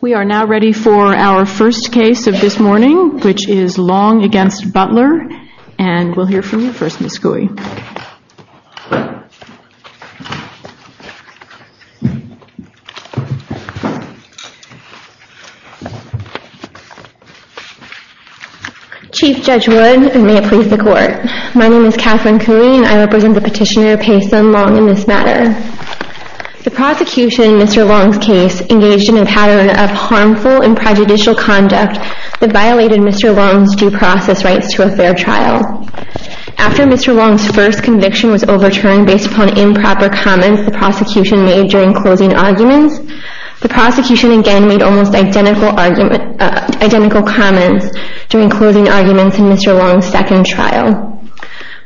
We are now ready for our first case of this morning, which is Long v. Butler, and we'll hear from you first, Ms. Cooey. Chief Judge Wood, and may it please the Court, my name is Kathryn Cooey, and I represent the petitioner Paysun Long in this matter. The prosecution in Mr. Long's case engaged in a pattern of harmful and prejudicial conduct that violated Mr. Long's due process rights to a fair trial. After Mr. Long's first conviction was overturned based upon improper comments the prosecution made during closing arguments, the prosecution again made almost identical comments during closing arguments in Mr. Long's second trial.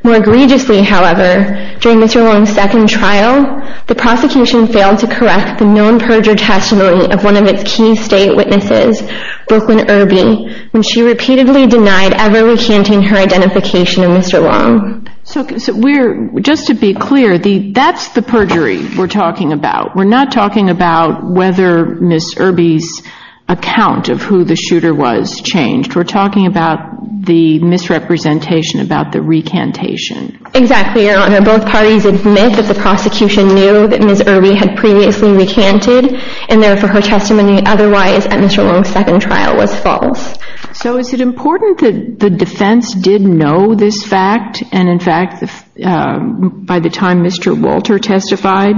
More egregiously, however, during Mr. Long's second trial, the prosecution failed to correct the non-perjure testimony of one of its key state witnesses, Brooklyn Irby, when she repeatedly denied ever recanting her identification of Mr. Long. So just to be clear, that's the perjury we're talking about. We're not talking about whether Ms. Irby's account of who the shooter was changed. We're talking about the misrepresentation about the recantation. Exactly, Your Honor. Both parties admit that the prosecution knew that Ms. Irby had previously recanted, and therefore her testimony otherwise at Mr. Long's second trial was false. So is it important that the defense did know this fact? And in fact, by the time Mr. Walter testified,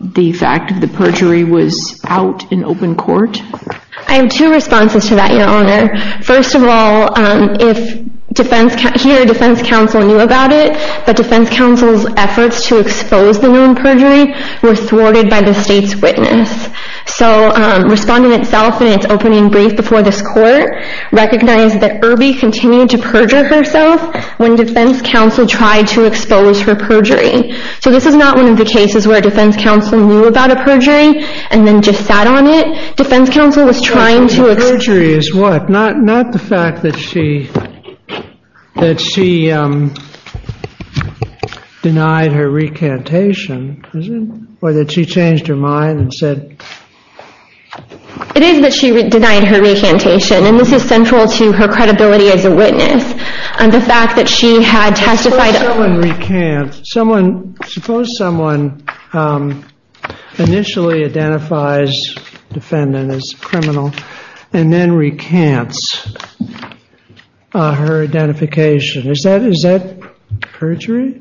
the fact of the perjury was out in open court? I have two responses to that, Your Honor. First of all, here, defense counsel knew about it, but defense counsel's efforts to expose the woman perjury were thwarted by the state's witness. So Respondent South, in its opening brief before this court, recognized that Irby continued to perjure herself when defense counsel tried to expose her perjury. So this is not one of the cases where defense counsel knew about a perjury and then just sat on it. Defense counsel was trying to expose her perjury. The perjury is what? Not the fact that she denied her recantation, is it? Or that she changed her mind and said? It is that she denied her recantation, and this is central to her credibility as a witness. The fact that she had testified. Suppose someone recants. Suppose someone initially identifies defendant as criminal and then recants her identification. Is that perjury?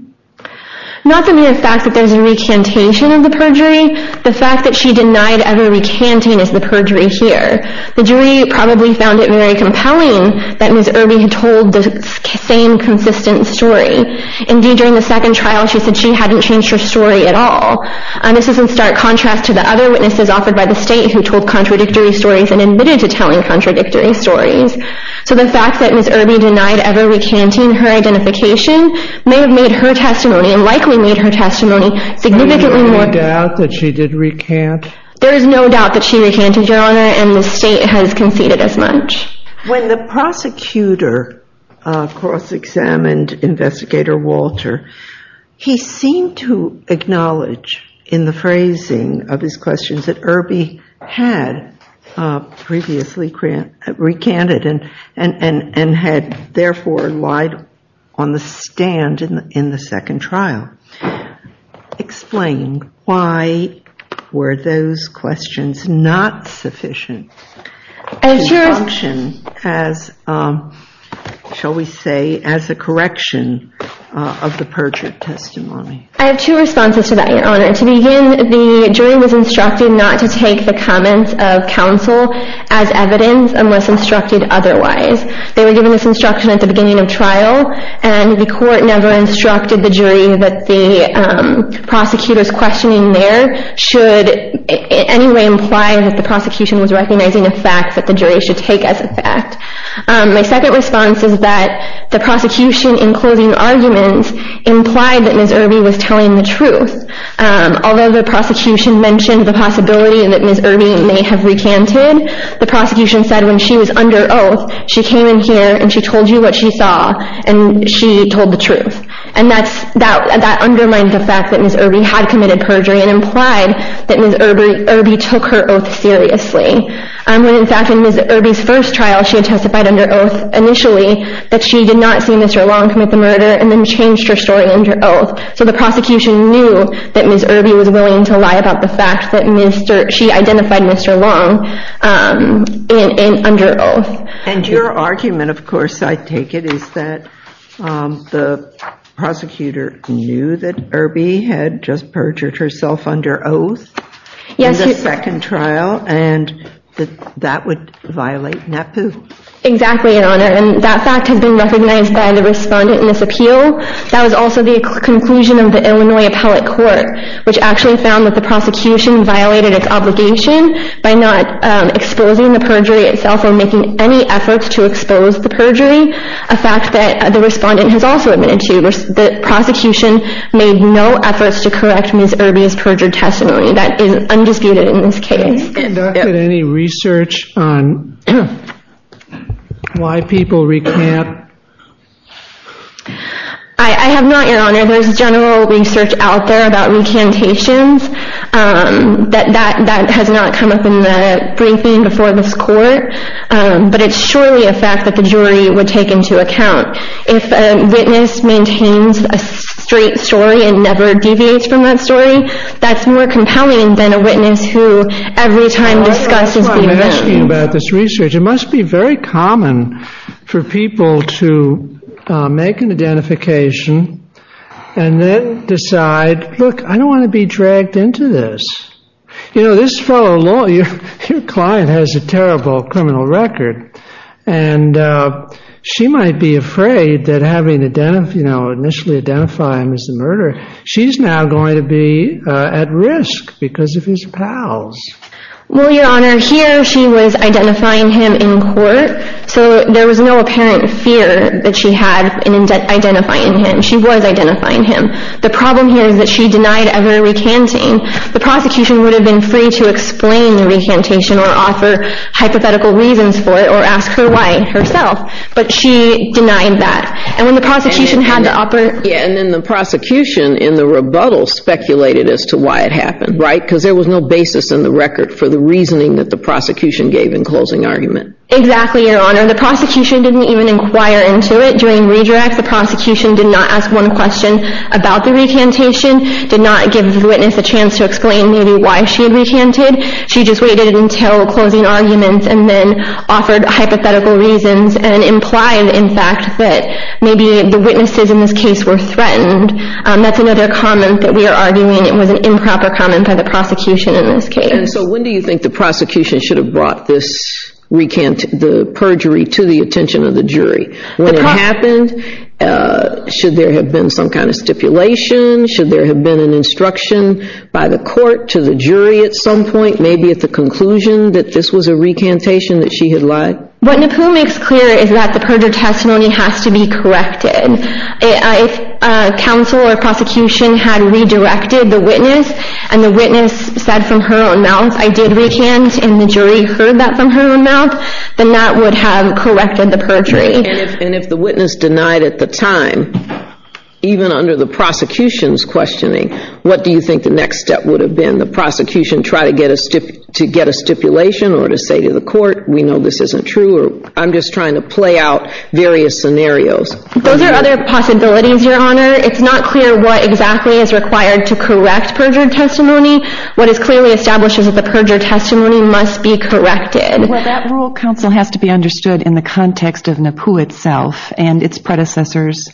Not the mere fact that there's a recantation of the perjury. The fact that she denied ever recanting is the perjury here. The jury probably found it very compelling that Ms. Irby had told the same consistent story. Indeed, during the second trial, she said she hadn't changed her story at all. And this is in stark contrast to the other witnesses offered by the state who told contradictory stories and admitted to telling contradictory stories. So the fact that Ms. Irby denied ever recanting her identification may have made her testimony, and likely made her testimony, significantly more. Is there any doubt that she did recant? There is no doubt that she recanted, Your Honor, and the state has conceded as much. When the prosecutor cross-examined Investigator Walter, he seemed to acknowledge in the phrasing of his questions that Irby had previously recanted and had therefore lied on the stand in the second trial. Explain, why were those questions not sufficient to function as, shall we say, as a correction of the perjured testimony? I have two responses to that, Your Honor. To begin, the jury was instructed not to take the comments of counsel as evidence unless instructed otherwise. They were given this instruction at the beginning of trial, and the court never instructed the jury that the prosecutor's questioning there should in any way imply that the prosecution was recognizing a fact that the jury should take as a fact. My second response is that the prosecution in closing arguments implied that Ms. Irby was telling the truth. Although the prosecution mentioned the possibility that Ms. Irby may have recanted, the prosecution said when she was under oath, she came in here and she told you what she saw, and she told the truth. And that undermined the fact that Ms. Irby had committed perjury and implied that Ms. Irby took her oath seriously, when in fact in Ms. Irby's first trial she testified under oath initially that she did not see Mr. Long commit the murder and then changed her story under oath. So the prosecution knew that Ms. Irby was willing to lie about the fact that she identified Mr. Long under oath. And your argument, of course, I take it, is that the prosecutor knew that Irby had just perjured herself under oath in the second trial, and that that would violate NAPU. Exactly, Your Honor, and that fact has been recognized by the respondent in this appeal. That was also the conclusion of the Illinois Appellate Court, which actually found that the prosecution violated its obligation by not exposing the perjury itself or making any efforts to expose the perjury, a fact that the respondent has also admitted to. The prosecution made no efforts to correct Ms. Irby's perjured testimony. That is undisputed in this case. Have you conducted any research on why people recant? I have not, Your Honor. There is general research out there about recantations. That has not come up in the briefing before this court, but it's surely a fact that the jury would take into account. If a witness maintains a straight story and never deviates from that story, that's more compelling than a witness who every time discusses the event. I'm asking about this research. It must be very common for people to make an identification and then decide, look, I don't want to be dragged into this. You know, this fellow lawyer, your client has a terrible criminal record, and she might be afraid that having initially identified him as the murderer, she's now going to be at risk because of his pals. Well, Your Honor, here she was identifying him in court, so there was no apparent fear that she had in identifying him. She was identifying him. The problem here is that she denied ever recanting. The prosecution would have been free to explain the recantation or offer hypothetical reasons for it or ask her why herself, but she denied that. And when the prosecution had the opportunity. Yeah, and then the prosecution in the rebuttal speculated as to why it happened, right, because there was no basis in the record for the reasoning that the prosecution gave in closing argument. Exactly, Your Honor. The prosecution didn't even inquire into it during redirect. The prosecution did not ask one question about the recantation, did not give the witness a chance to explain maybe why she had recanted. She just waited until closing argument and then offered hypothetical reasons and implied, in fact, that maybe the witnesses in this case were threatened. That's another comment that we are arguing. It was an improper comment by the prosecution in this case. And so when do you think the prosecution should have brought the perjury to the attention of the jury? When it happened? Should there have been some kind of stipulation? Should there have been an instruction by the court to the jury at some point, maybe at the conclusion that this was a recantation that she had lied? What Napoo makes clear is that the perjury testimony has to be corrected. If counsel or prosecution had redirected the witness and the witness said from her own mouth, I did recant, and the jury heard that from her own mouth, then that would have corrected the perjury. And if the witness denied at the time, even under the prosecution's questioning, what do you think the next step would have been? The prosecution try to get a stipulation or to say to the court, we know this isn't true or I'm just trying to play out various scenarios. Those are other possibilities, Your Honor. It's not clear what exactly is required to correct perjury testimony. What is clearly established is that the perjury testimony must be corrected. Well, that rule of counsel has to be understood in the context of Napoo itself and its predecessors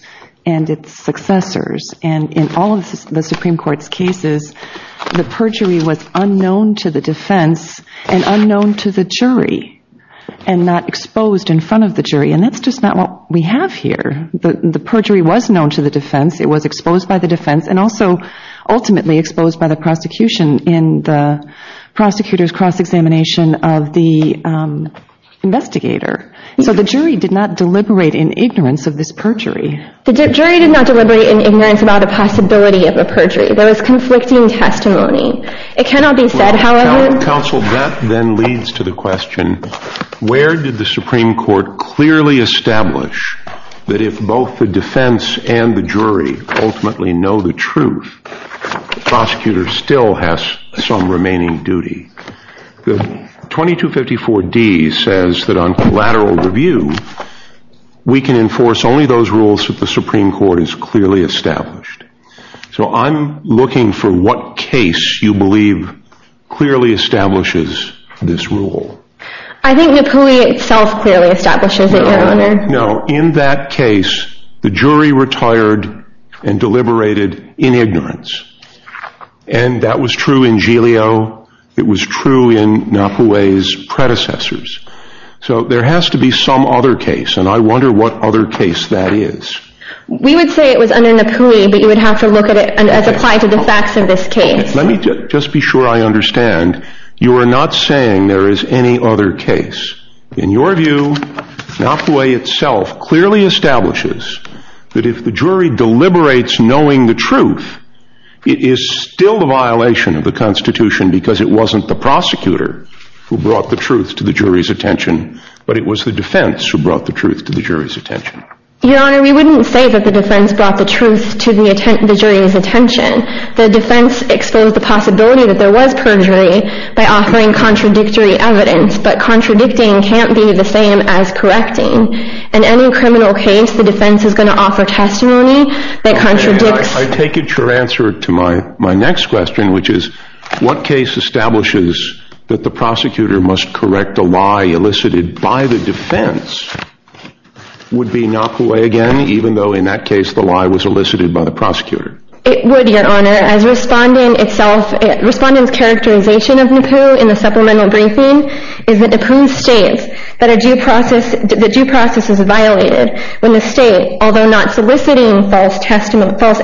and its successors. And in all of the Supreme Court's cases, the perjury was unknown to the defense And that's just not what we have here. The perjury was known to the defense. It was exposed by the defense and also ultimately exposed by the prosecution in the prosecutor's cross-examination of the investigator. So the jury did not deliberate in ignorance of this perjury. The jury did not deliberate in ignorance about the possibility of a perjury. That was conflicting testimony. Counsel, that then leads to the question, where did the Supreme Court clearly establish that if both the defense and the jury ultimately know the truth, the prosecutor still has some remaining duty? The 2254D says that on collateral review, we can enforce only those rules that the Supreme Court has clearly established. So I'm looking for what case you believe clearly establishes this rule. I think Napoo itself clearly establishes it, Your Honor. No, in that case, the jury retired and deliberated in ignorance. And that was true in Giglio. It was true in Napoo's predecessors. So there has to be some other case, and I wonder what other case that is. We would say it was under Napoo, but you would have to look at it as applied to the facts of this case. Let me just be sure I understand. You are not saying there is any other case. In your view, Napoo itself clearly establishes that if the jury deliberates knowing the truth, it is still a violation of the Constitution because it wasn't the prosecutor who brought the truth to the jury's attention, but it was the defense who brought the truth to the jury's attention. Your Honor, we wouldn't say that the defense brought the truth to the jury's attention. The defense exposed the possibility that there was perjury by offering contradictory evidence, but contradicting can't be the same as correcting. In any criminal case, the defense is going to offer testimony that contradicts. I take it your answer to my next question, which is what case establishes that the prosecutor must correct a lie elicited by the defense would be knocked away again, even though in that case the lie was elicited by the prosecutor? It would, Your Honor. Respondent's characterization of Napoo in the supplemental briefing is that Napoo states that due process is violated when the state, although not soliciting false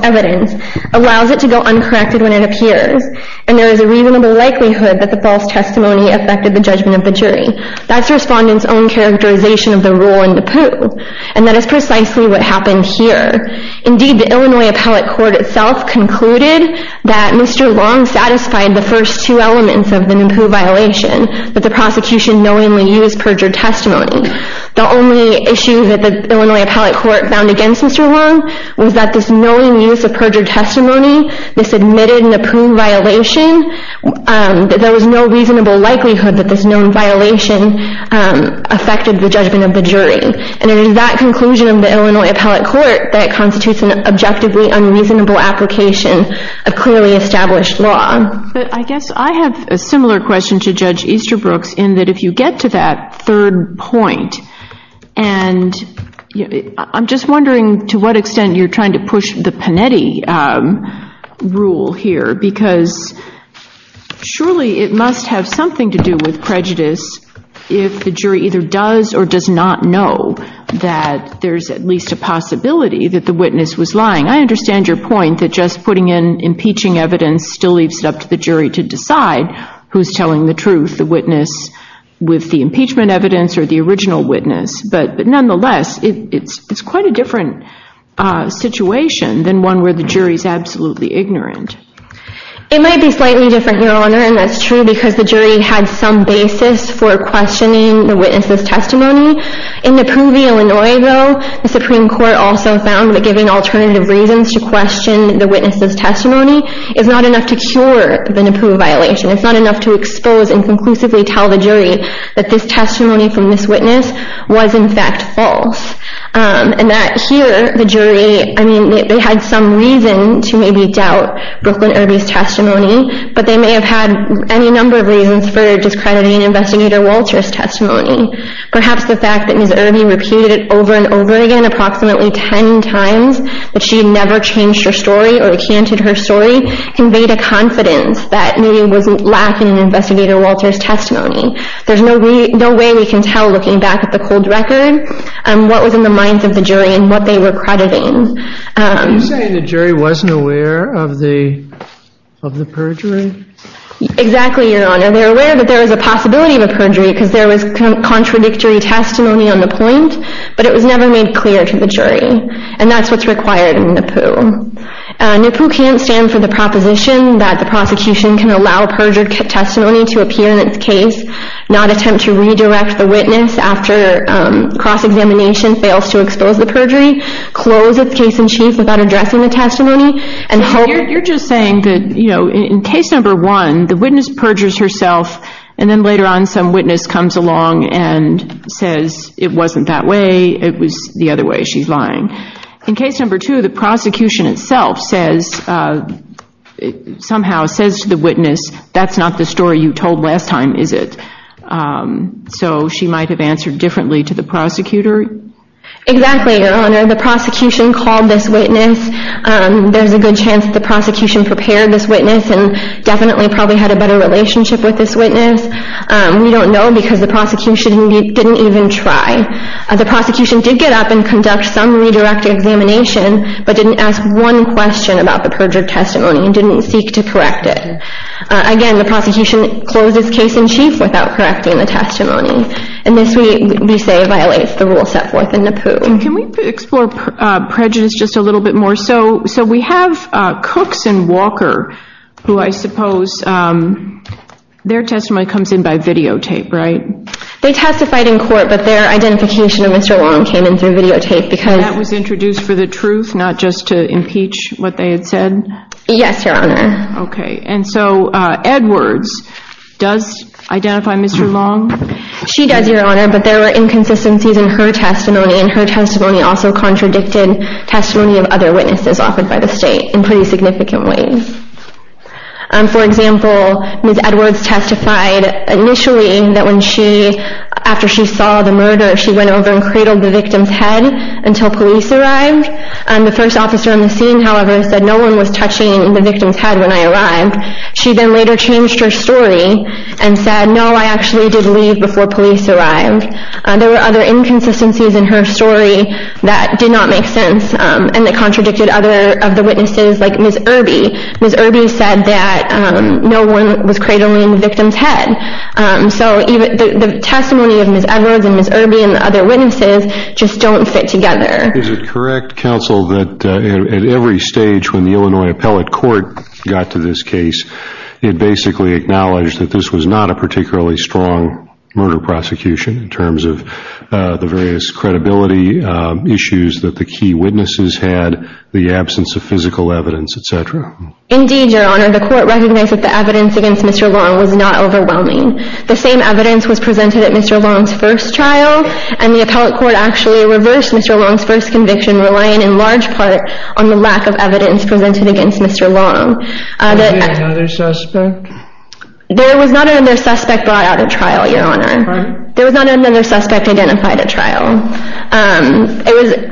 evidence, allows it to go uncorrected when it appears, and there is a reasonable likelihood that the false testimony affected the judgment of the jury. That's Respondent's own characterization of the rule in Napoo, and that is precisely what happened here. Indeed, the Illinois Appellate Court itself concluded that Mr. Long satisfied the first two elements of the Napoo violation, that the prosecution knowingly used perjured testimony. The only issue that the Illinois Appellate Court found against Mr. Long was that this knowing use of perjured testimony, this admitted Napoo violation, that there was no reasonable likelihood that this known violation affected the judgment of the jury. And it is that conclusion of the Illinois Appellate Court that constitutes an objectively unreasonable application of clearly established law. But I guess I have a similar question to Judge Easterbrook's in that if you get to that third point, and I'm just wondering to what extent you're trying to push the Panetti rule here, because surely it must have something to do with prejudice if the jury either does or does not know that there's at least a possibility that the witness was lying. I understand your point that just putting in impeaching evidence still leaves it up to the jury to decide who's telling the truth, the witness with the impeachment evidence or the original witness. But nonetheless, it's quite a different situation than one where the jury's absolutely ignorant. It might be slightly different here, Your Honor, and that's true because the jury had some basis for questioning the witness's testimony. In Napoo v. Illinois, though, the Supreme Court also found that giving alternative reasons to question the witness's testimony is not enough to cure the Napoo violation. It's not enough to expose and conclusively tell the jury that this testimony from this witness was, in fact, false. And that here, the jury, I mean, they had some reason to maybe doubt Brooklyn Irby's testimony, but they may have had any number of reasons for discrediting Investigator Walter's testimony. Perhaps the fact that Ms. Irby repeated it over and over again approximately 10 times, but she had never changed her story or recanted her story, conveyed a confidence that maybe it was lacking in Investigator Walter's testimony. There's no way we can tell, looking back at the cold record, what was in the minds of the jury and what they were crediting. Are you saying the jury wasn't aware of the perjury? Exactly, Your Honor. They were aware, but there was a possibility of a perjury because there was contradictory testimony on the point, but it was never made clear to the jury. And that's what's required in Napoo. Napoo can't stand for the proposition that the prosecution can allow perjured testimony to appear in its case, after cross-examination fails to expose the perjury, close its case-in-chief without addressing the testimony, and hold... You're just saying that, you know, in case number one, the witness perjures herself, and then later on, some witness comes along and says, it wasn't that way, it was the other way, she's lying. In case number two, the prosecution itself says, somehow says to the witness, that's not the story you told last time, is it? So she might have answered differently to the prosecutor? Exactly, Your Honor. The prosecution called this witness. There's a good chance the prosecution prepared this witness and definitely probably had a better relationship with this witness. We don't know because the prosecution didn't even try. The prosecution did get up and conduct some redirected examination, but didn't ask one question about the perjured testimony and didn't seek to correct it. Again, the prosecution closes case-in-chief without correcting the testimony. And this, we say, violates the rules set forth in NAPU. Can we explore prejudice just a little bit more? So we have Cooks and Walker, who I suppose their testimony comes in by videotape, right? They testified in court, but their identification of Mr. Long came in through videotape because... That was introduced for the truth, not just to impeach what they had said? Yes, Your Honor. Okay, and so Edwards does identify Mr. Long? She does, Your Honor, but there were inconsistencies in her testimony, and her testimony also contradicted testimony of other witnesses offered by the state in pretty significant ways. For example, Ms. Edwards testified initially that after she saw the murder, she went over and cradled the victim's head until police arrived. The first officer on the scene, however, said no one was touching the victim's head when I arrived. She then later changed her story and said, no, I actually did leave before police arrived. There were other inconsistencies in her story that did not make sense and that contradicted other of the witnesses, like Ms. Irby. Ms. Irby said that no one was cradling the victim's head. So the testimony of Ms. Edwards and Ms. Irby and the other witnesses just don't fit together. Is it correct, counsel, that at every stage when the Illinois Appellate Court got to this case, it basically acknowledged that this was not a particularly strong murder prosecution in terms of the various credibility issues that the key witnesses had, the absence of physical evidence, et cetera? Indeed, Your Honor. The court recognized that the evidence against Mr. Long was not overwhelming. The same evidence was presented at Mr. Long's first trial, and the Appellate Court actually reversed Mr. Long's first conviction, relying in large part on the lack of evidence presented against Mr. Long. Was there another suspect? There was not another suspect brought out at trial, Your Honor. There was not another suspect identified at trial.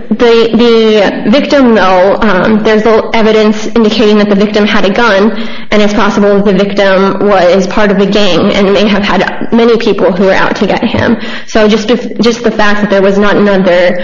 The victim, though, there's evidence indicating that the victim had a gun, and it's possible the victim was part of a gang and may have had many people who were out to get him. So just the fact that there was not another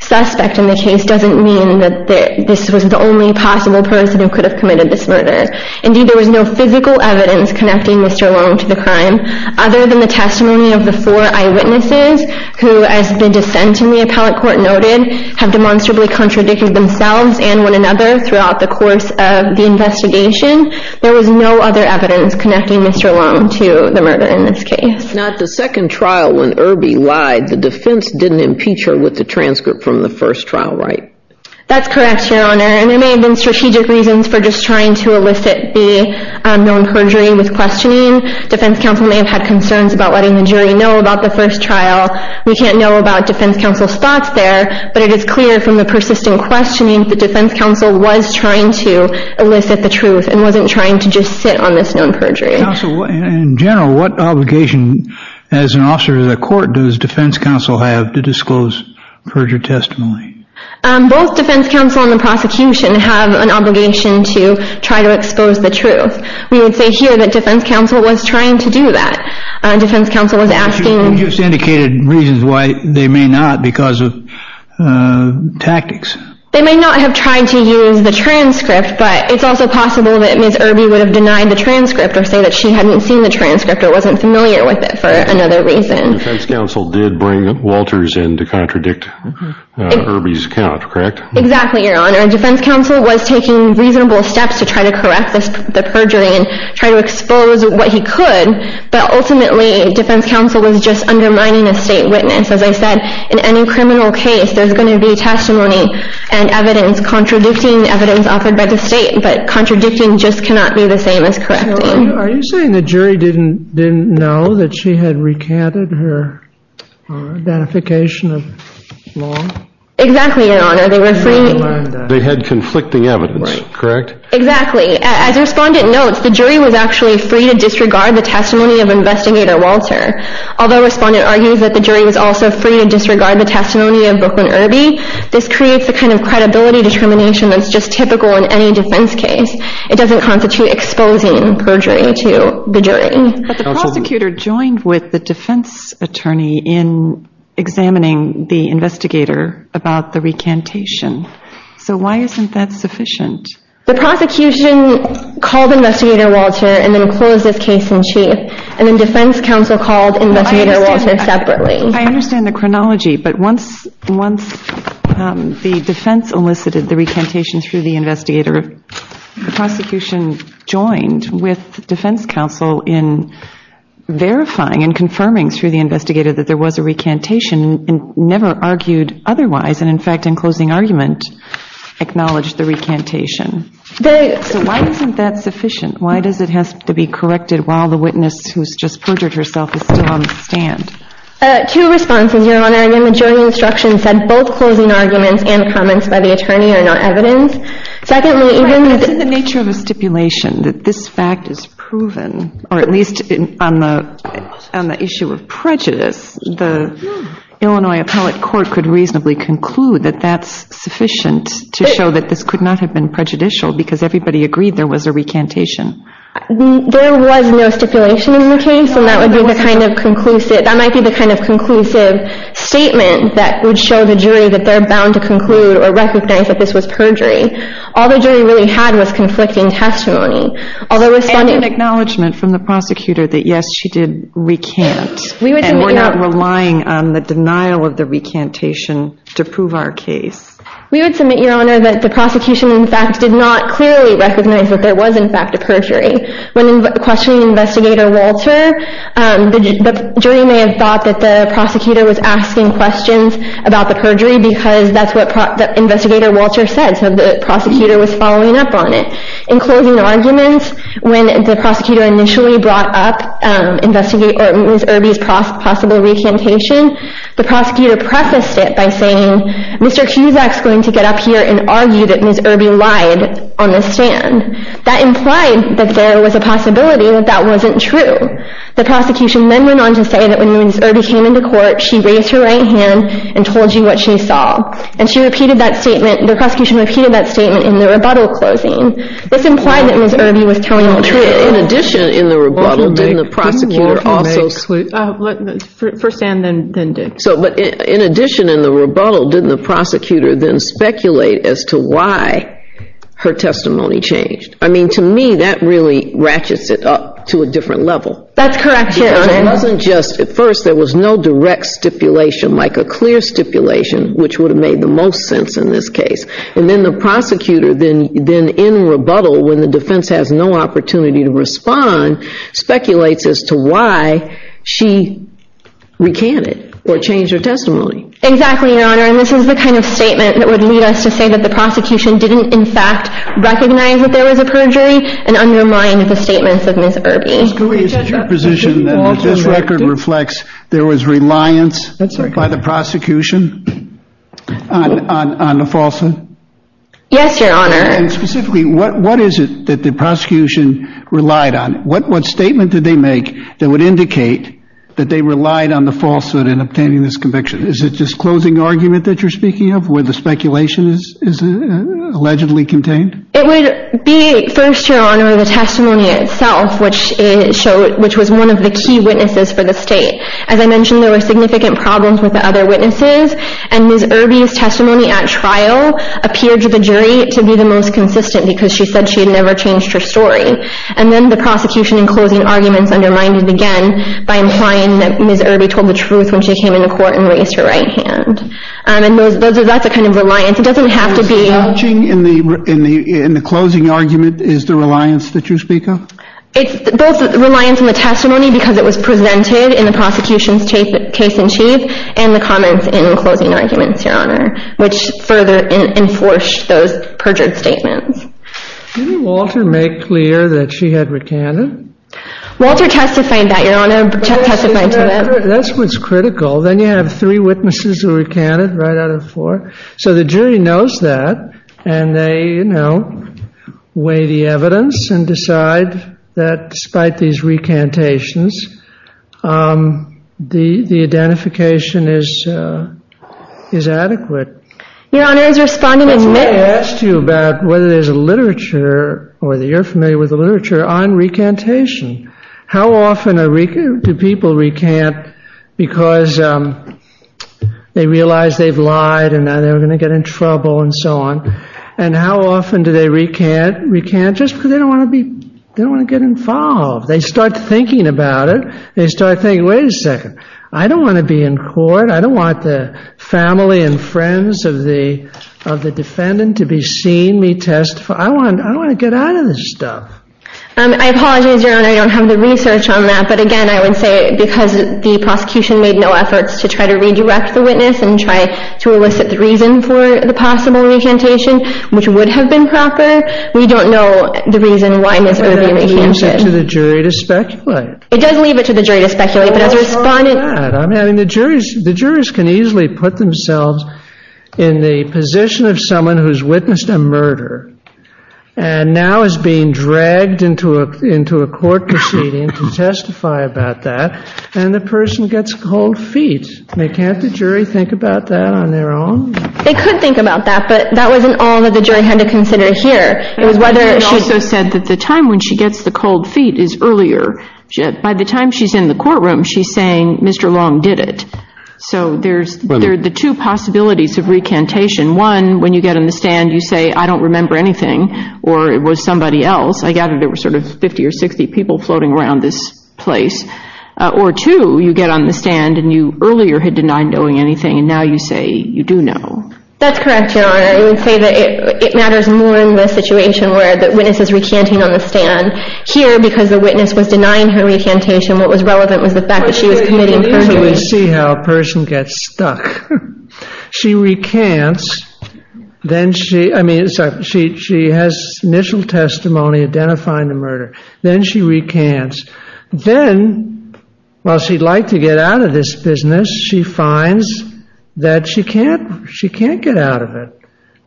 suspect in the case doesn't mean that this was the only possible person who could have committed this murder. Indeed, there was no physical evidence connecting Mr. Long to the crime other than the testimony of the four eyewitnesses who, as the dissent in the Appellate Court noted, have demonstrably contradicted themselves and one another throughout the course of the investigation. There was no other evidence connecting Mr. Long to the murder in this case. Now, at the second trial when Irby lied, the defense didn't impeach her with the transcript from the first trial, right? That's correct, Your Honor, and there may have been strategic reasons for just trying to elicit the known perjury with questioning. Defense counsel may have had concerns about letting the jury know about the first trial. We can't know about defense counsel's thoughts there, but it is clear from the persistent questioning that defense counsel was trying to elicit the truth and wasn't trying to just sit on this known perjury. Counsel, in general, what obligation as an officer of the court does defense counsel have to disclose perjury testimony? Both defense counsel and the prosecution have an obligation to try to expose the truth. We would say here that defense counsel was trying to do that. Defense counsel was asking... You just indicated reasons why they may not because of tactics. They may not have tried to use the transcript, but it's also possible that Ms. Irby would have denied the transcript or say that she hadn't seen the transcript or wasn't familiar with it for another reason. Defense counsel did bring Walters in to contradict Irby's account, correct? Exactly, Your Honor. Defense counsel was taking reasonable steps to try to correct the perjury and try to expose what he could, but ultimately defense counsel was just undermining a state witness. As I said, in any criminal case, there's going to be testimony and evidence contradicting the evidence offered by the state, but contradicting just cannot be the same as correcting. Are you saying the jury didn't know that she had recanted her identification of law? Exactly, Your Honor. They had conflicting evidence, correct? Exactly. As the Respondent notes, the jury was actually free to disregard the testimony of Investigator Walter. Although Respondent argues that the jury was also free to disregard the testimony of Brooklyn Irby, this creates a kind of credibility determination that's just typical in any defense case. It doesn't constitute exposing perjury to the jury. But the prosecutor joined with the defense attorney in examining the investigator about the recantation. So why isn't that sufficient? The prosecution called Investigator Walter and then closed this case in chief, and then defense counsel called Investigator Walter separately. I understand the chronology, but once the defense elicited the recantation through the investigator, the prosecution joined with defense counsel in verifying and confirming through the investigator that there was a recantation and never argued otherwise and, in fact, in closing argument, acknowledged the recantation. So why isn't that sufficient? Why does it have to be corrected while the witness who's just perjured herself is still on the stand? Two responses, Your Honor. Again, the jury instruction said both closing arguments and comments by the attorney are not evidence. Secondly, even the — But isn't the nature of the stipulation that this fact is proven, or at least on the issue of prejudice, the Illinois appellate court could reasonably conclude that that's sufficient to show that this could not have been prejudicial because everybody agreed there was a recantation. There was no stipulation in the case, and that would be the kind of conclusive — that might be the kind of conclusive statement that would show the jury that they're bound to conclude or recognize that this was perjury. All the jury really had was conflicting testimony. And an acknowledgment from the prosecutor that, yes, she did recant, and we're not relying on the denial of the recantation to prove our case. We would submit, Your Honor, that the prosecution, in fact, When questioning Investigator Walter, the jury may have thought that the prosecutor was asking questions about the perjury because that's what Investigator Walter said, so the prosecutor was following up on it. In closing arguments, when the prosecutor initially brought up Ms. Irby's possible recantation, the prosecutor prefaced it by saying, Mr. Cusack's going to get up here and argue that Ms. Irby lied on the stand. That implied that there was a possibility that that wasn't true. The prosecution then went on to say that when Ms. Irby came into court, she raised her right hand and told you what she saw. And the prosecution repeated that statement in the rebuttal closing. This implied that Ms. Irby was telling the truth. In addition, in the rebuttal, didn't the prosecutor then speculate as to why her testimony changed? I mean, to me, that really ratchets it up to a different level. That's correct, Your Honor. Because it wasn't just, at first, there was no direct stipulation, like a clear stipulation, which would have made the most sense in this case. And then the prosecutor then, in rebuttal, when the defense has no opportunity to respond, speculates as to why she recanted or changed her testimony. Exactly, Your Honor, and this is the kind of statement that would lead us to say that the prosecution didn't, in fact, recognize that there was a perjury and undermine the statements of Ms. Irby. Ms. Gouy, is it your position that this record reflects there was reliance by the prosecution on the falsehood? Yes, Your Honor. And specifically, what is it that the prosecution relied on? What statement did they make that would indicate that they relied on the falsehood in obtaining this conviction? Is it this closing argument that you're speaking of, where the speculation is allegedly contained? It would be, first, Your Honor, the testimony itself, which was one of the key witnesses for the state. As I mentioned, there were significant problems with the other witnesses, and Ms. Irby's testimony at trial appeared to the jury to be the most consistent because she said she had never changed her story. And then the prosecution, in closing arguments, undermined it again by implying that Ms. Irby told the truth when she came into court and raised her right hand. And that's a kind of reliance. It doesn't have to be— So what's changing in the closing argument is the reliance that you speak of? It's both reliance on the testimony because it was presented in the prosecution's case in chief and the comments in closing arguments, Your Honor, which further enforced those perjured statements. Didn't Walter make clear that she had recanted? Walter testified that, Your Honor. That's what's critical. Then you have three witnesses who recanted right out of four. So the jury knows that, and they, you know, weigh the evidence and decide that, despite these recantations, the identification is adequate. Your Honor, is responding to Ms.— That's why I asked you about whether there's a literature or that you're familiar with the literature on recantation. How often do people recant because they realize they've lied and they're going to get in trouble and so on? And how often do they recant just because they don't want to be—they don't want to get involved? They start thinking about it. They start thinking, wait a second, I don't want to be in court. I don't want the family and friends of the defendant to be seeing me testify. I want to get out of this stuff. I apologize, Your Honor, I don't have the research on that. But, again, I would say because the prosecution made no efforts to try to redirect the witness and try to elicit the reason for the possible recantation, which would have been proper, we don't know the reason why Ms. Irby recanted. But that leaves it to the jury to speculate. It does leave it to the jury to speculate, but as a respondent— Well, it's not that. I mean, the jurors can easily put themselves in the position of someone who's witnessed a murder and now is being dragged into a court proceeding to testify about that, and the person gets cold feet. Can't the jury think about that on their own? They could think about that, but that wasn't all that the jury had to consider here. She also said that the time when she gets the cold feet is earlier. By the time she's in the courtroom, she's saying, Mr. Long did it. So there are the two possibilities of recantation. One, when you get on the stand, you say, I don't remember anything or it was somebody else. I gather there were sort of 50 or 60 people floating around this place. Or two, you get on the stand and you earlier had denied knowing anything, and now you say you do know. That's correct, Your Honor. I would say that it matters more in the situation where the witness is recanting on the stand. Here, because the witness was denying her recantation, what was relevant was the fact that she was committing perjury. You can easily see how a person gets stuck. She recants. She has initial testimony identifying the murder. Then she recants. Then, while she'd like to get out of this business, she finds that she can't get out of it.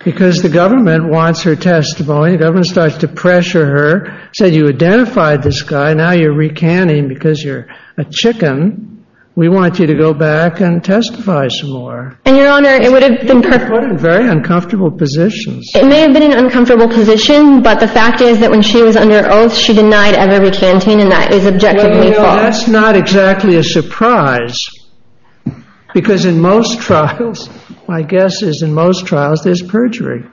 Because the government wants her testimony. The government starts to pressure her. Said you identified this guy. Now you're recanting because you're a chicken. We want you to go back and testify some more. And, Your Honor, it would have been perfect. You're put in very uncomfortable positions. It may have been an uncomfortable position, but the fact is that when she was under oath, she denied ever recanting, and that is objectively false. No, no, that's not exactly a surprise. Because in most trials, my guess is in most trials, there's perjury.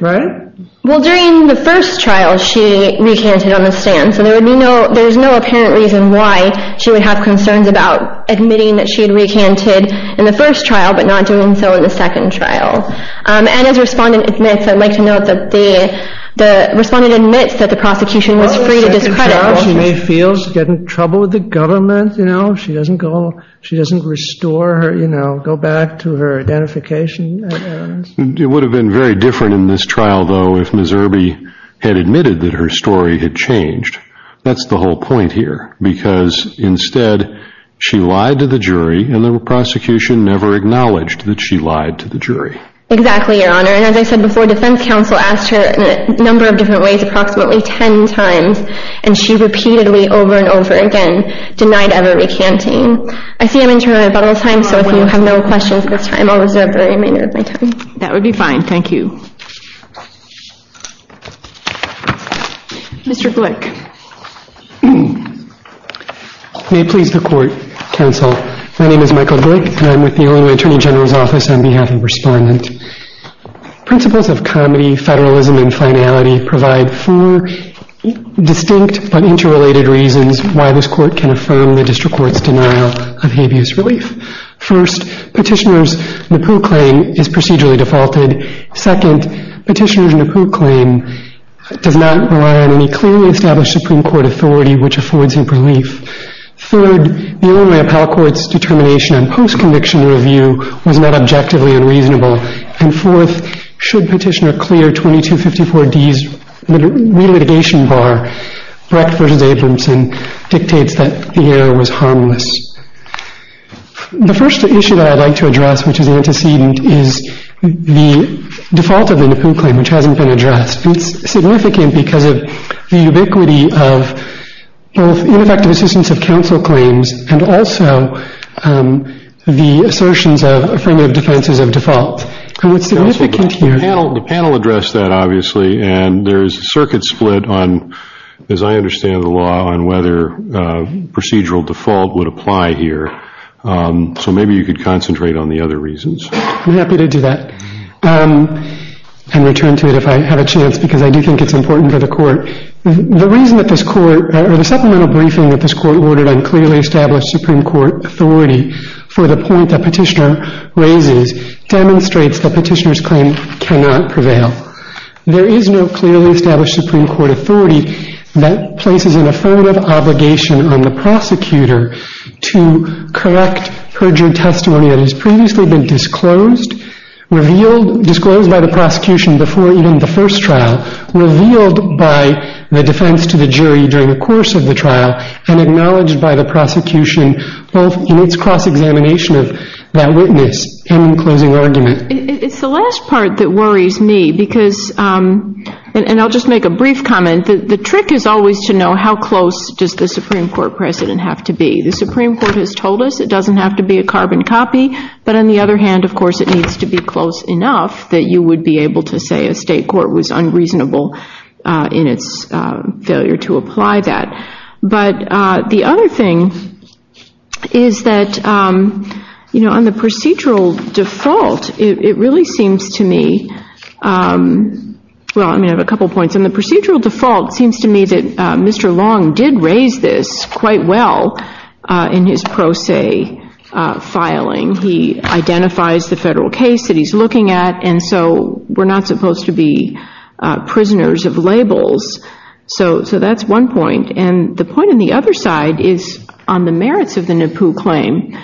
Right? Well, during the first trial, she recanted on the stand. So there's no apparent reason why she would have concerns about admitting that she had recanted in the first trial but not doing so in the second trial. And as the respondent admits, I'd like to note that the respondent admits that the prosecution was free to discredit her. She may feel she's getting in trouble with the government. You know, she doesn't restore her, you know, go back to her identification. It would have been very different in this trial, though, if Ms. Irby had admitted that her story had changed. That's the whole point here. Because instead, she lied to the jury, and the prosecution never acknowledged that she lied to the jury. Exactly, Your Honor. And as I said before, defense counsel asked her in a number of different ways approximately 10 times, and she repeatedly, over and over again, denied ever recanting. I see I'm interrupted about all time, so if you have no questions at this time, I'll reserve the remainder of my time. That would be fine. Thank you. Mr. Glick. May it please the Court, counsel. My name is Michael Glick, and I'm with the Illinois Attorney General's Office on behalf of the respondent. Principles of comedy, federalism, and finality provide four distinct but interrelated reasons why this court can affirm the district court's denial of habeas relief. First, Petitioner's NAPU claim is procedurally defaulted. Second, Petitioner's NAPU claim does not rely on any clearly established Supreme Court authority which affords him relief. Third, the Illinois Appellate Court's determination on post-conviction review was not objectively unreasonable. And fourth, should Petitioner clear 2254D's re-litigation bar, Brecht v. Abramson dictates that the error was harmless. The first issue that I'd like to address, which is antecedent, is the default of the NAPU claim, which hasn't been addressed. It's significant because of the ubiquity of both ineffective assistance of counsel claims and also the assertions of affirmative defenses of default. The panel addressed that, obviously, and there's a circuit split on, as I understand the law, on whether procedural default would apply here. So maybe you could concentrate on the other reasons. I'm happy to do that and return to it if I have a chance because I do think it's important for the Court. The reason that this Court, or the supplemental briefing that this Court ordered on clearly established Supreme Court authority for the point that Petitioner raises, demonstrates that Petitioner's claim cannot prevail. There is no clearly established Supreme Court authority that places an affirmative obligation on the prosecutor to correct perjured testimony that has previously been disclosed, disclosed by the prosecution before even the first trial, revealed by the defense to the jury during the course of the trial, and acknowledged by the prosecution both in its cross-examination of that witness and in closing argument. It's the last part that worries me because, and I'll just make a brief comment, the trick is always to know how close does the Supreme Court precedent have to be. The Supreme Court has told us it doesn't have to be a carbon copy, but on the other hand, of course, it needs to be close enough that you would be able to say a state court was unreasonable in its failure to apply that. But the other thing is that, you know, on the procedural default, it really seems to me, well, I mean, I have a couple points. On the procedural default, it seems to me that Mr. Long did raise this quite well in his pro se filing. He identifies the federal case that he's looking at, and so we're not supposed to be prisoners of labels. So that's one point. And the point on the other side is on the merits of the NAPU claim.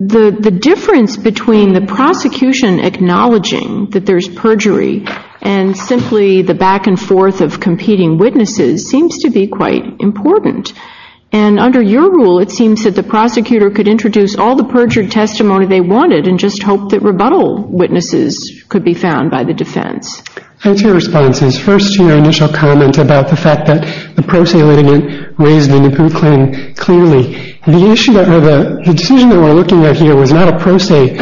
The difference between the prosecution acknowledging that there's perjury and simply the back and forth of competing witnesses seems to be quite important. And under your rule, it seems that the prosecutor could introduce all the perjured testimony they wanted and just hope that rebuttal witnesses could be found by the defense. I have two responses. First, your initial comment about the fact that the pro se litigant raised the NAPU claim clearly. The decision that we're looking at here was not a pro se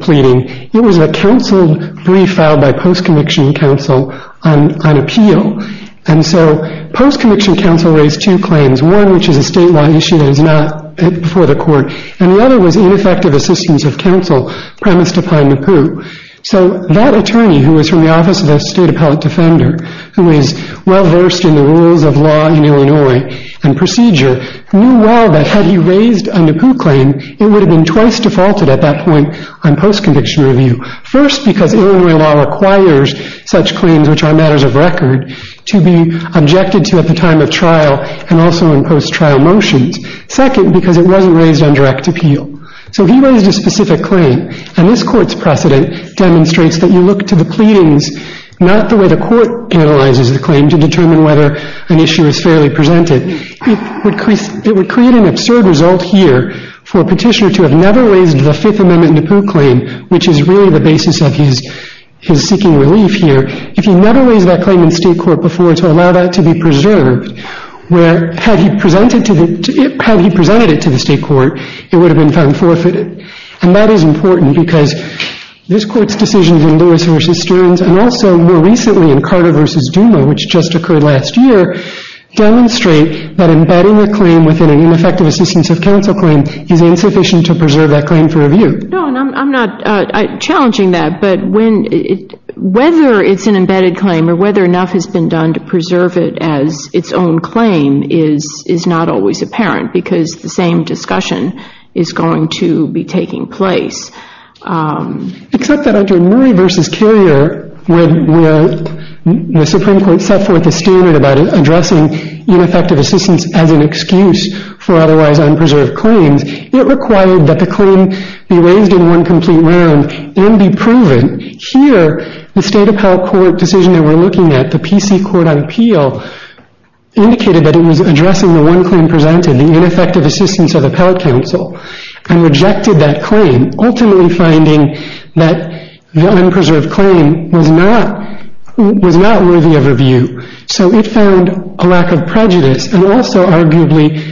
pleading. It was a counsel brief filed by post-conviction counsel on appeal. And so post-conviction counsel raised two claims, one which is a statewide issue that is not before the court, and the other was ineffective assistance of counsel premised upon NAPU. So that attorney, who is from the Office of the State Appellate Defender, who is well versed in the rules of law in Illinois and procedure, knew well that had he raised a NAPU claim, it would have been twice defaulted at that point on post-conviction review. First, because Illinois law requires such claims, which are matters of record, to be objected to at the time of trial and also in post-trial motions. Second, because it wasn't raised on direct appeal. So he raised a specific claim, and this court's precedent demonstrates that you look to the pleadings, not the way the court analyzes the claim to determine whether an issue is fairly presented. It would create an absurd result here for a petitioner to have never raised the Fifth Amendment NAPU claim, which is really the basis of his seeking relief here. If he never raised that claim in state court before to allow that to be preserved, where had he presented it to the state court, it would have been found forfeited. And that is important because this Court's decisions in Lewis v. Stearns and also more recently in Carter v. Duma, which just occurred last year, demonstrate that embedding a claim within an ineffective assistance of counsel claim is insufficient to preserve that claim for review. No, and I'm not challenging that, but whether it's an embedded claim or whether enough has been done to preserve it as its own claim is not always apparent because the same discussion is going to be taking place. Except that under Murray v. Carrier, where the Supreme Court set forth a standard about addressing ineffective assistance as an excuse for otherwise unpreserved claims, it required that the claim be raised in one complete round and be proven. Here, the State Appellate Court decision that we're looking at, the P.C. Court on Peel, indicated that it was addressing the one claim presented, the ineffective assistance of appellate counsel, and rejected that claim, ultimately finding that the unpreserved claim was not worthy of review. So it found a lack of prejudice and also arguably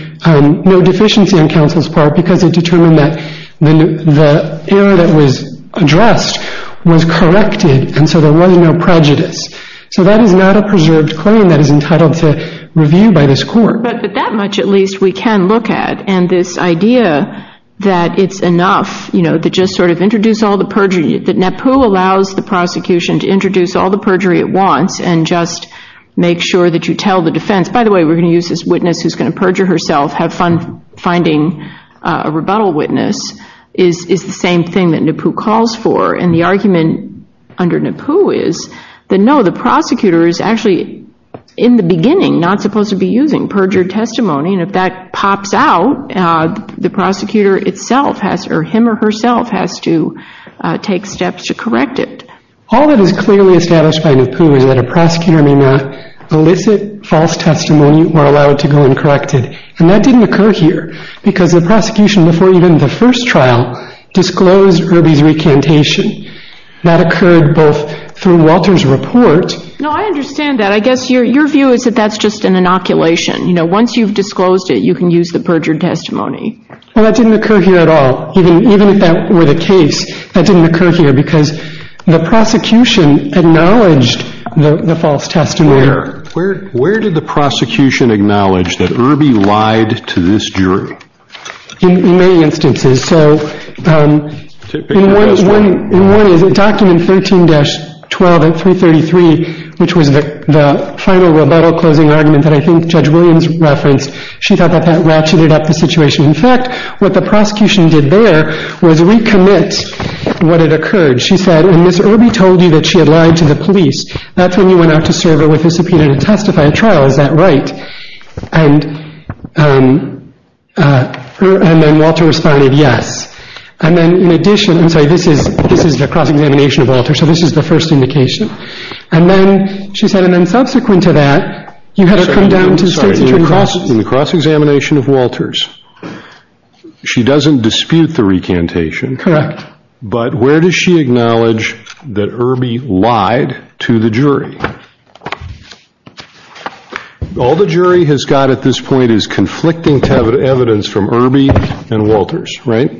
no deficiency on counsel's part because it determined that the error that was addressed was corrected, and so there was no prejudice. So that is not a preserved claim that is entitled to review by this Court. But that much at least we can look at, and this idea that it's enough to just sort of introduce all the perjury, that NAPU allows the prosecution to introduce all the perjury it wants and just make sure that you tell the defense, by the way, we're going to use this witness who's going to perjure herself, have fun finding a rebuttal witness, is the same thing that NAPU calls for. And the argument under NAPU is that, no, the prosecutor is actually in the beginning not supposed to be using perjured testimony, and if that pops out, the prosecutor itself or him or herself has to take steps to correct it. All that is clearly established by NAPU is that a prosecutor may not elicit false testimony or allow it to go uncorrected. And that didn't occur here because the prosecution, before even the first trial, disclosed Irby's recantation. That occurred both through Walter's report. No, I understand that. I guess your view is that that's just an inoculation. Once you've disclosed it, you can use the perjured testimony. Well, that didn't occur here at all. Even if that were the case, that didn't occur here because the prosecution acknowledged the false testimony. Where did the prosecution acknowledge that Irby lied to this jury? In many instances. So in one document, 13-12 and 333, which was the final rebuttal closing argument that I think Judge Williams referenced, she thought that that ratcheted up the situation. In fact, what the prosecution did there was recommit what had occurred. She said, when Ms. Irby told you that she had lied to the police, that's when you went out to serve her with a subpoena to testify at trial. Is that right? And then Walter responded, yes. And then in addition, I'm sorry, this is the cross-examination of Walter, so this is the first indication. And then she said, and then subsequent to that, in the cross-examination of Walters, she doesn't dispute the recantation. Correct. But where does she acknowledge that Irby lied to the jury? All the jury has got at this point is conflicting evidence from Irby and Walters, right?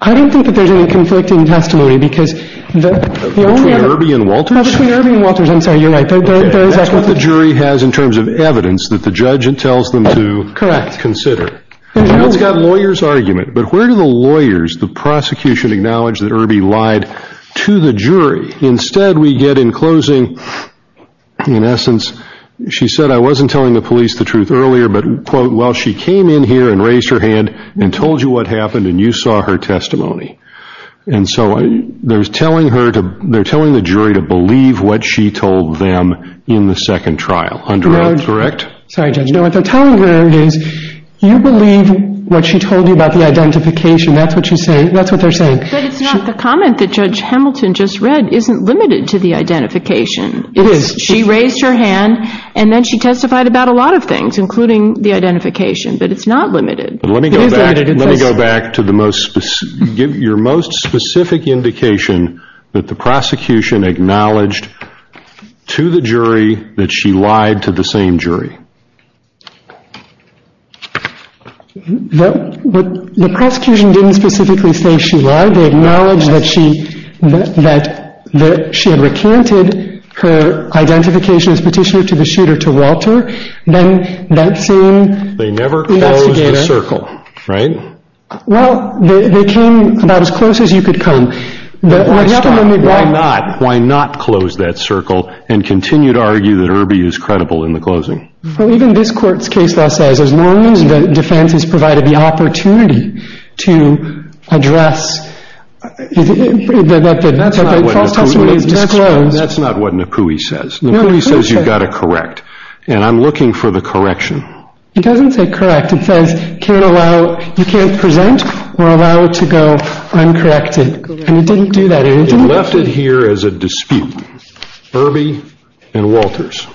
I don't think that there's any conflicting testimony because the only evidence Between Irby and Walters? Between Irby and Walters. I'm sorry, you're right. There is evidence. That's what the jury has in terms of evidence that the judge tells them to consider. Correct. It's got lawyer's argument, but where do the lawyers, the prosecution, acknowledge that Irby lied to the jury? Instead, we get in closing, in essence, she said, I wasn't telling the police the truth earlier, but, quote, well, she came in here and raised her hand and told you what happened and you saw her testimony. And so they're telling the jury to believe what she told them in the second trial, under oath, correct? Sorry, Judge. No, what they're telling her is you believe what she told you about the identification. That's what they're saying. But it's not the comment that Judge Hamilton just read isn't limited to the identification. It is. She raised her hand and then she testified about a lot of things, including the identification, but it's not limited. It is limited. Let me go back to your most specific indication that the prosecution acknowledged to the jury that she lied to the same jury. The prosecution didn't specifically say she lied. They acknowledged that she had recanted her identification as petitioner to the shooter to Walter. They never closed the circle, right? Well, they came about as close as you could come. Why not close that circle and continue to argue that Irby is credible in the closing? Well, even this court's case law says as long as the defense is provided the opportunity to address that the false testimony is disclosed. That's not what Napui says. Napui says you've got to correct, and I'm looking for the correction. It doesn't say correct. It says you can't present or allow it to go uncorrected, and it didn't do that. It left it here as a dispute, Irby and Walters,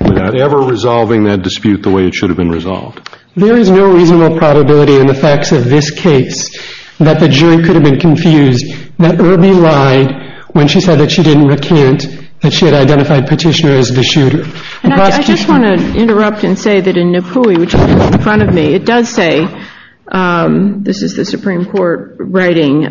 without ever resolving that dispute the way it should have been resolved. There is no reasonable probability in the facts of this case that the jury could have been confused, that Irby lied when she said that she didn't recant that she had identified petitioner as the shooter. And I just want to interrupt and say that in Napui, which is in front of me, it does say, this is the Supreme Court writing,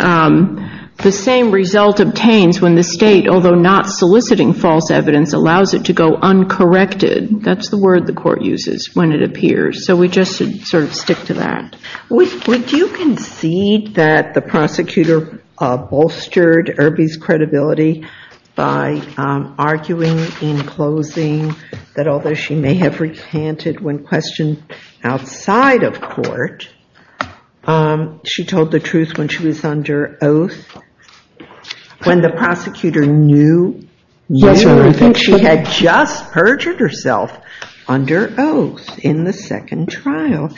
the same result obtains when the state, although not soliciting false evidence, allows it to go uncorrected. That's the word the court uses when it appears. So we just sort of stick to that. Would you concede that the prosecutor bolstered Irby's credibility by arguing in closing that although she may have recanted when questioned outside of court, she told the truth when she was under oath, when the prosecutor knew that she had just perjured herself under oath in the second trial?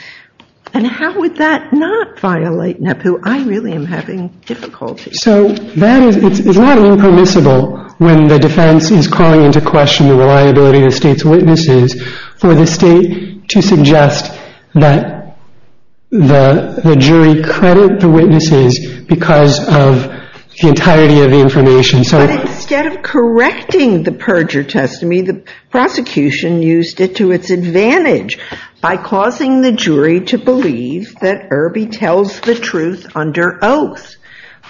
And how would that not violate Napui? I really am having difficulty. So it's not impermissible when the defense is calling into question the reliability of the state's witnesses for the state to suggest that the jury credit the witnesses because of the entirety of the information. But instead of correcting the perjure testimony, the prosecution used it to its advantage by causing the jury to believe that Irby tells the truth under oath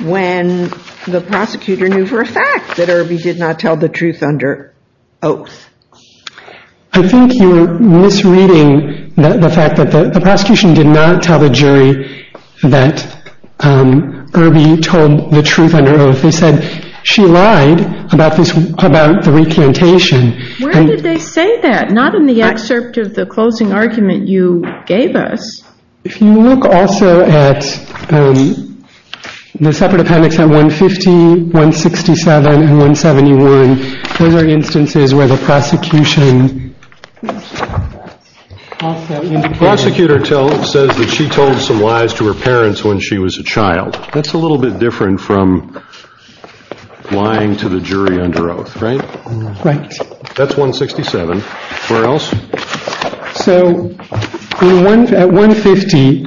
when the prosecutor knew for a fact that Irby did not tell the truth under oath. I think you're misreading the fact that the prosecution did not tell the jury that Irby told the truth under oath. They said she lied about the recantation. Where did they say that? Not in the excerpt of the closing argument you gave us. If you look also at the separate appendix at 150, 167, and 171, those are instances where the prosecution also indicated- The prosecutor says that she told some lies to her parents when she was a child. That's a little bit different from lying to the jury under oath, right? Right. That's 167. Where else? So at 150,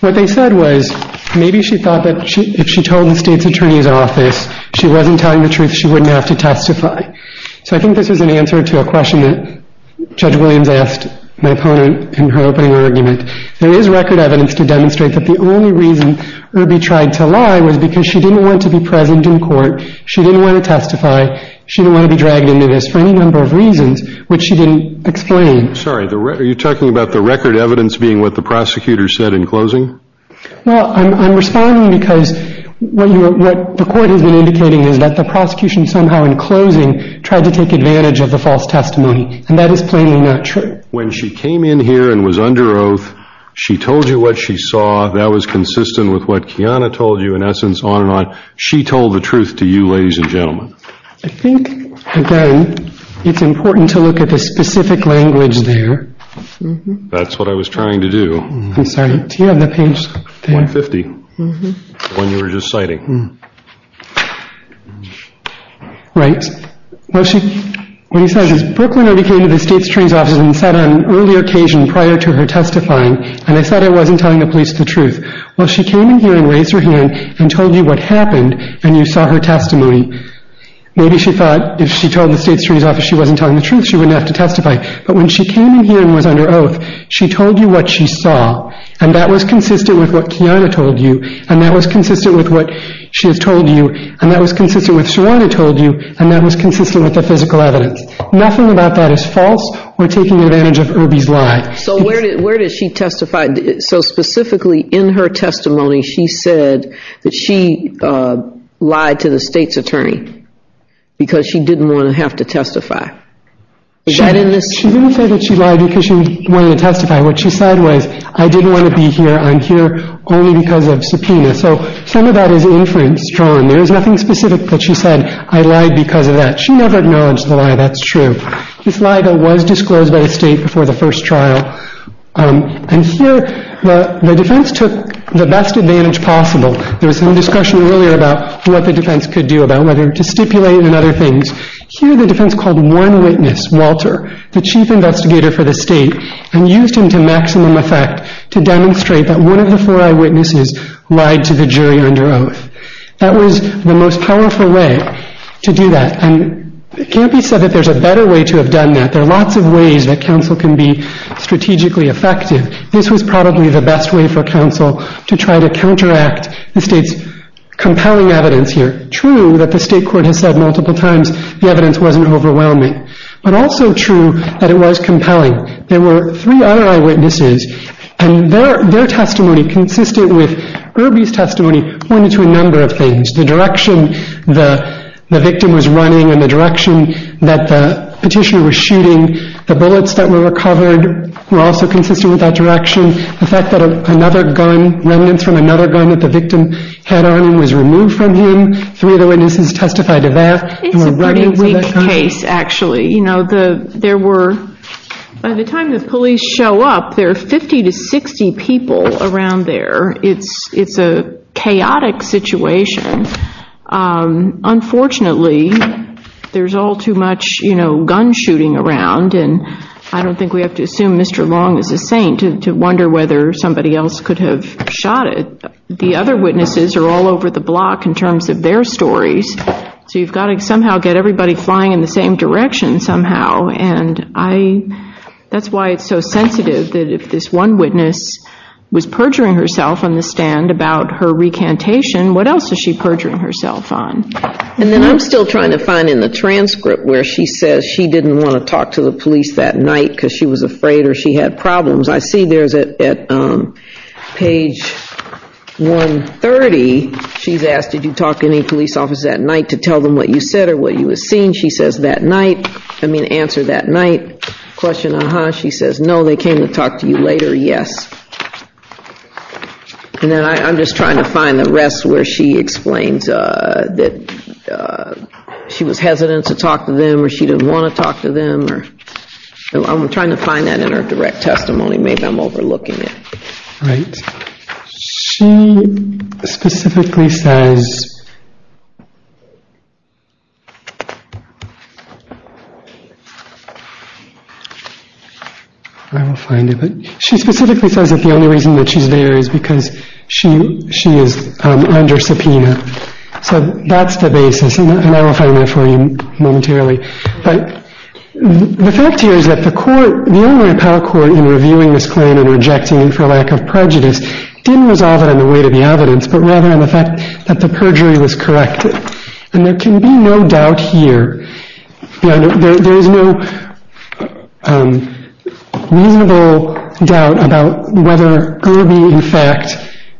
what they said was maybe she thought that if she told the state's attorney's office she wasn't telling the truth, she wouldn't have to testify. So I think this is an answer to a question that Judge Williams asked my opponent in her opening argument. There is record evidence to demonstrate that the only reason Irby tried to lie was because she didn't want to be present in court. She didn't want to testify. She didn't want to be dragged into this for any number of reasons, which she didn't explain. Sorry, are you talking about the record evidence being what the prosecutor said in closing? Well, I'm responding because what the court has been indicating is that the prosecution somehow in closing tried to take advantage of the false testimony, and that is plainly not true. When she came in here and was under oath, she told you what she saw. That was consistent with what Kiana told you, in essence, on and on. She told the truth to you, ladies and gentlemen. I think, again, it's important to look at the specific language there. That's what I was trying to do. I'm sorry, do you have that page there? 150, the one you were just citing. Right. What he says is, Brooklyn Irby came to the State's Attorney's Office and said on an earlier occasion prior to her testifying, and I said I wasn't telling the police the truth. Well, she came in here and raised her hand and told you what happened, and you saw her testimony. Maybe she thought if she told the State's Attorney's Office she wasn't telling the truth, she wouldn't have to testify. But when she came in here and was under oath, she told you what she saw, and that was consistent with what Kiana told you, and that was consistent with what she has told you, and that was consistent with what Sorana told you, and that was consistent with the physical evidence. Nothing about that is false. We're taking advantage of Irby's lie. So where did she testify? So specifically in her testimony, she said that she lied to the State's Attorney because she didn't want to have to testify. Is that in this? She didn't say that she lied because she wanted to testify. What she said was, I didn't want to be here. I'm here only because of subpoena. So some of that is inference drawn. There is nothing specific that she said, I lied because of that. She never acknowledged the lie. That's true. This lie was disclosed by the State before the first trial, and here the defense took the best advantage possible. There was some discussion earlier about what the defense could do about whether to stipulate and other things. Here the defense called one witness, Walter, the Chief Investigator for the State, and used him to maximum effect to demonstrate that one of the four eyewitnesses lied to the jury under oath. That was the most powerful way to do that, and it can't be said that there's a better way to have done that. There are lots of ways that counsel can be strategically effective. This was probably the best way for counsel to try to counteract the State's compelling evidence here. It's true that the State Court has said multiple times the evidence wasn't overwhelming, but also true that it was compelling. There were three other eyewitnesses, and their testimony consistent with Irby's testimony pointed to a number of things. The direction the victim was running and the direction that the petitioner was shooting, the bullets that were recovered were also consistent with that direction. The fact that remnants from another gun that the victim had on him was removed from him, three of the witnesses testified to that. It's a pretty weak case, actually. By the time the police show up, there are 50 to 60 people around there. It's a chaotic situation. Unfortunately, there's all too much gun shooting around, and I don't think we have to assume Mr. Long is a saint to wonder whether somebody else could have shot it. The other witnesses are all over the block in terms of their stories, so you've got to somehow get everybody flying in the same direction somehow. That's why it's so sensitive that if this one witness was perjuring herself on the stand about her recantation, what else is she perjuring herself on? And then I'm still trying to find in the transcript where she says she didn't want to talk to the police that night because she was afraid or she had problems. I see there's at page 130, she's asked, did you talk to any police officers that night to tell them what you said or what you had seen? She says that night, I mean answer that night question, uh-huh. She says, no, they came to talk to you later, yes. And then I'm just trying to find the rest where she explains that she was hesitant to talk to them or she didn't want to talk to them. I'm trying to find that in her direct testimony. Maybe I'm overlooking it. She specifically says that the only reason that she's there is because she is under subpoena. So that's the basis, and I will find that for you momentarily. But the fact here is that the court, the Illinois Power Court, in reviewing this claim and rejecting it for lack of prejudice, didn't resolve it on the weight of the evidence, but rather on the fact that the perjury was corrected. And there can be no doubt here. There is no reasonable doubt about whether Irby, in fact,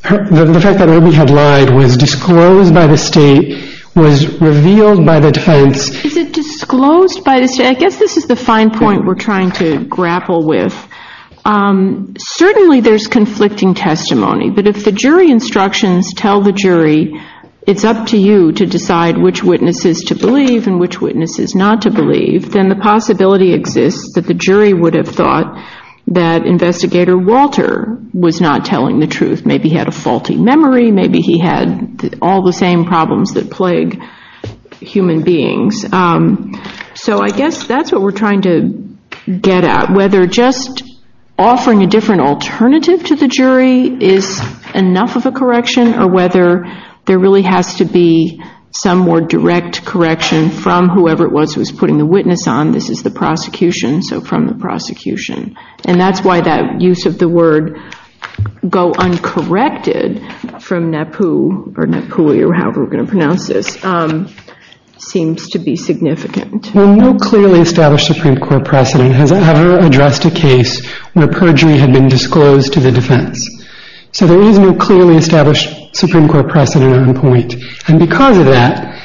the fact that Irby had lied was disclosed by the state, was revealed by the defense. Is it disclosed by the state? I guess this is the fine point we're trying to grapple with. Certainly there's conflicting testimony. But if the jury instructions tell the jury it's up to you to decide which witnesses to believe and which witnesses not to believe, then the possibility exists that the jury would have thought that Investigator Walter was not telling the truth. Maybe he had a faulty memory. Maybe he had all the same problems that plague human beings. So I guess that's what we're trying to get at, whether just offering a different alternative to the jury is enough of a correction, or whether there really has to be some more direct correction from whoever it was who was putting the witness on. And that's why that use of the word go uncorrected from NAPU or NAPUI or however we're going to pronounce this seems to be significant. Well, no clearly established Supreme Court precedent has ever addressed a case where perjury had been disclosed to the defense. So there is no clearly established Supreme Court precedent on point. And because of that,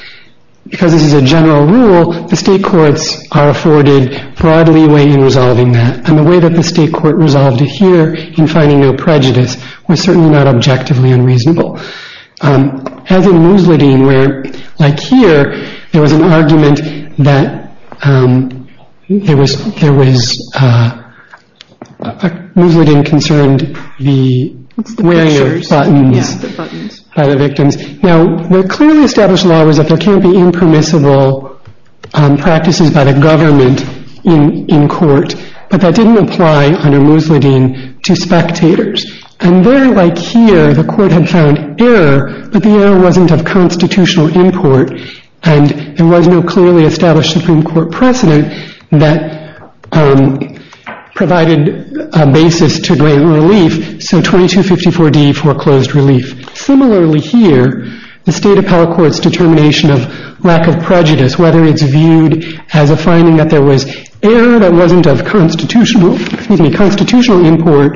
because this is a general rule, the state courts are afforded broad leeway in resolving that. And the way that the state court resolved it here in finding no prejudice was certainly not objectively unreasonable. As in Musladeen where, like here, there was an argument that there was... Musladeen concerned the wearing of buttons by the victims. Now, the clearly established law was that there can't be impermissible practices by the government in court, but that didn't apply under Musladeen to spectators. And there, like here, the court had found error, but the error wasn't of constitutional import, and there was no clearly established Supreme Court precedent that provided a basis to great relief. So 2254d foreclosed relief. Similarly here, the State Appellate Court's determination of lack of prejudice, whether it's viewed as a finding that there was error that wasn't of constitutional import,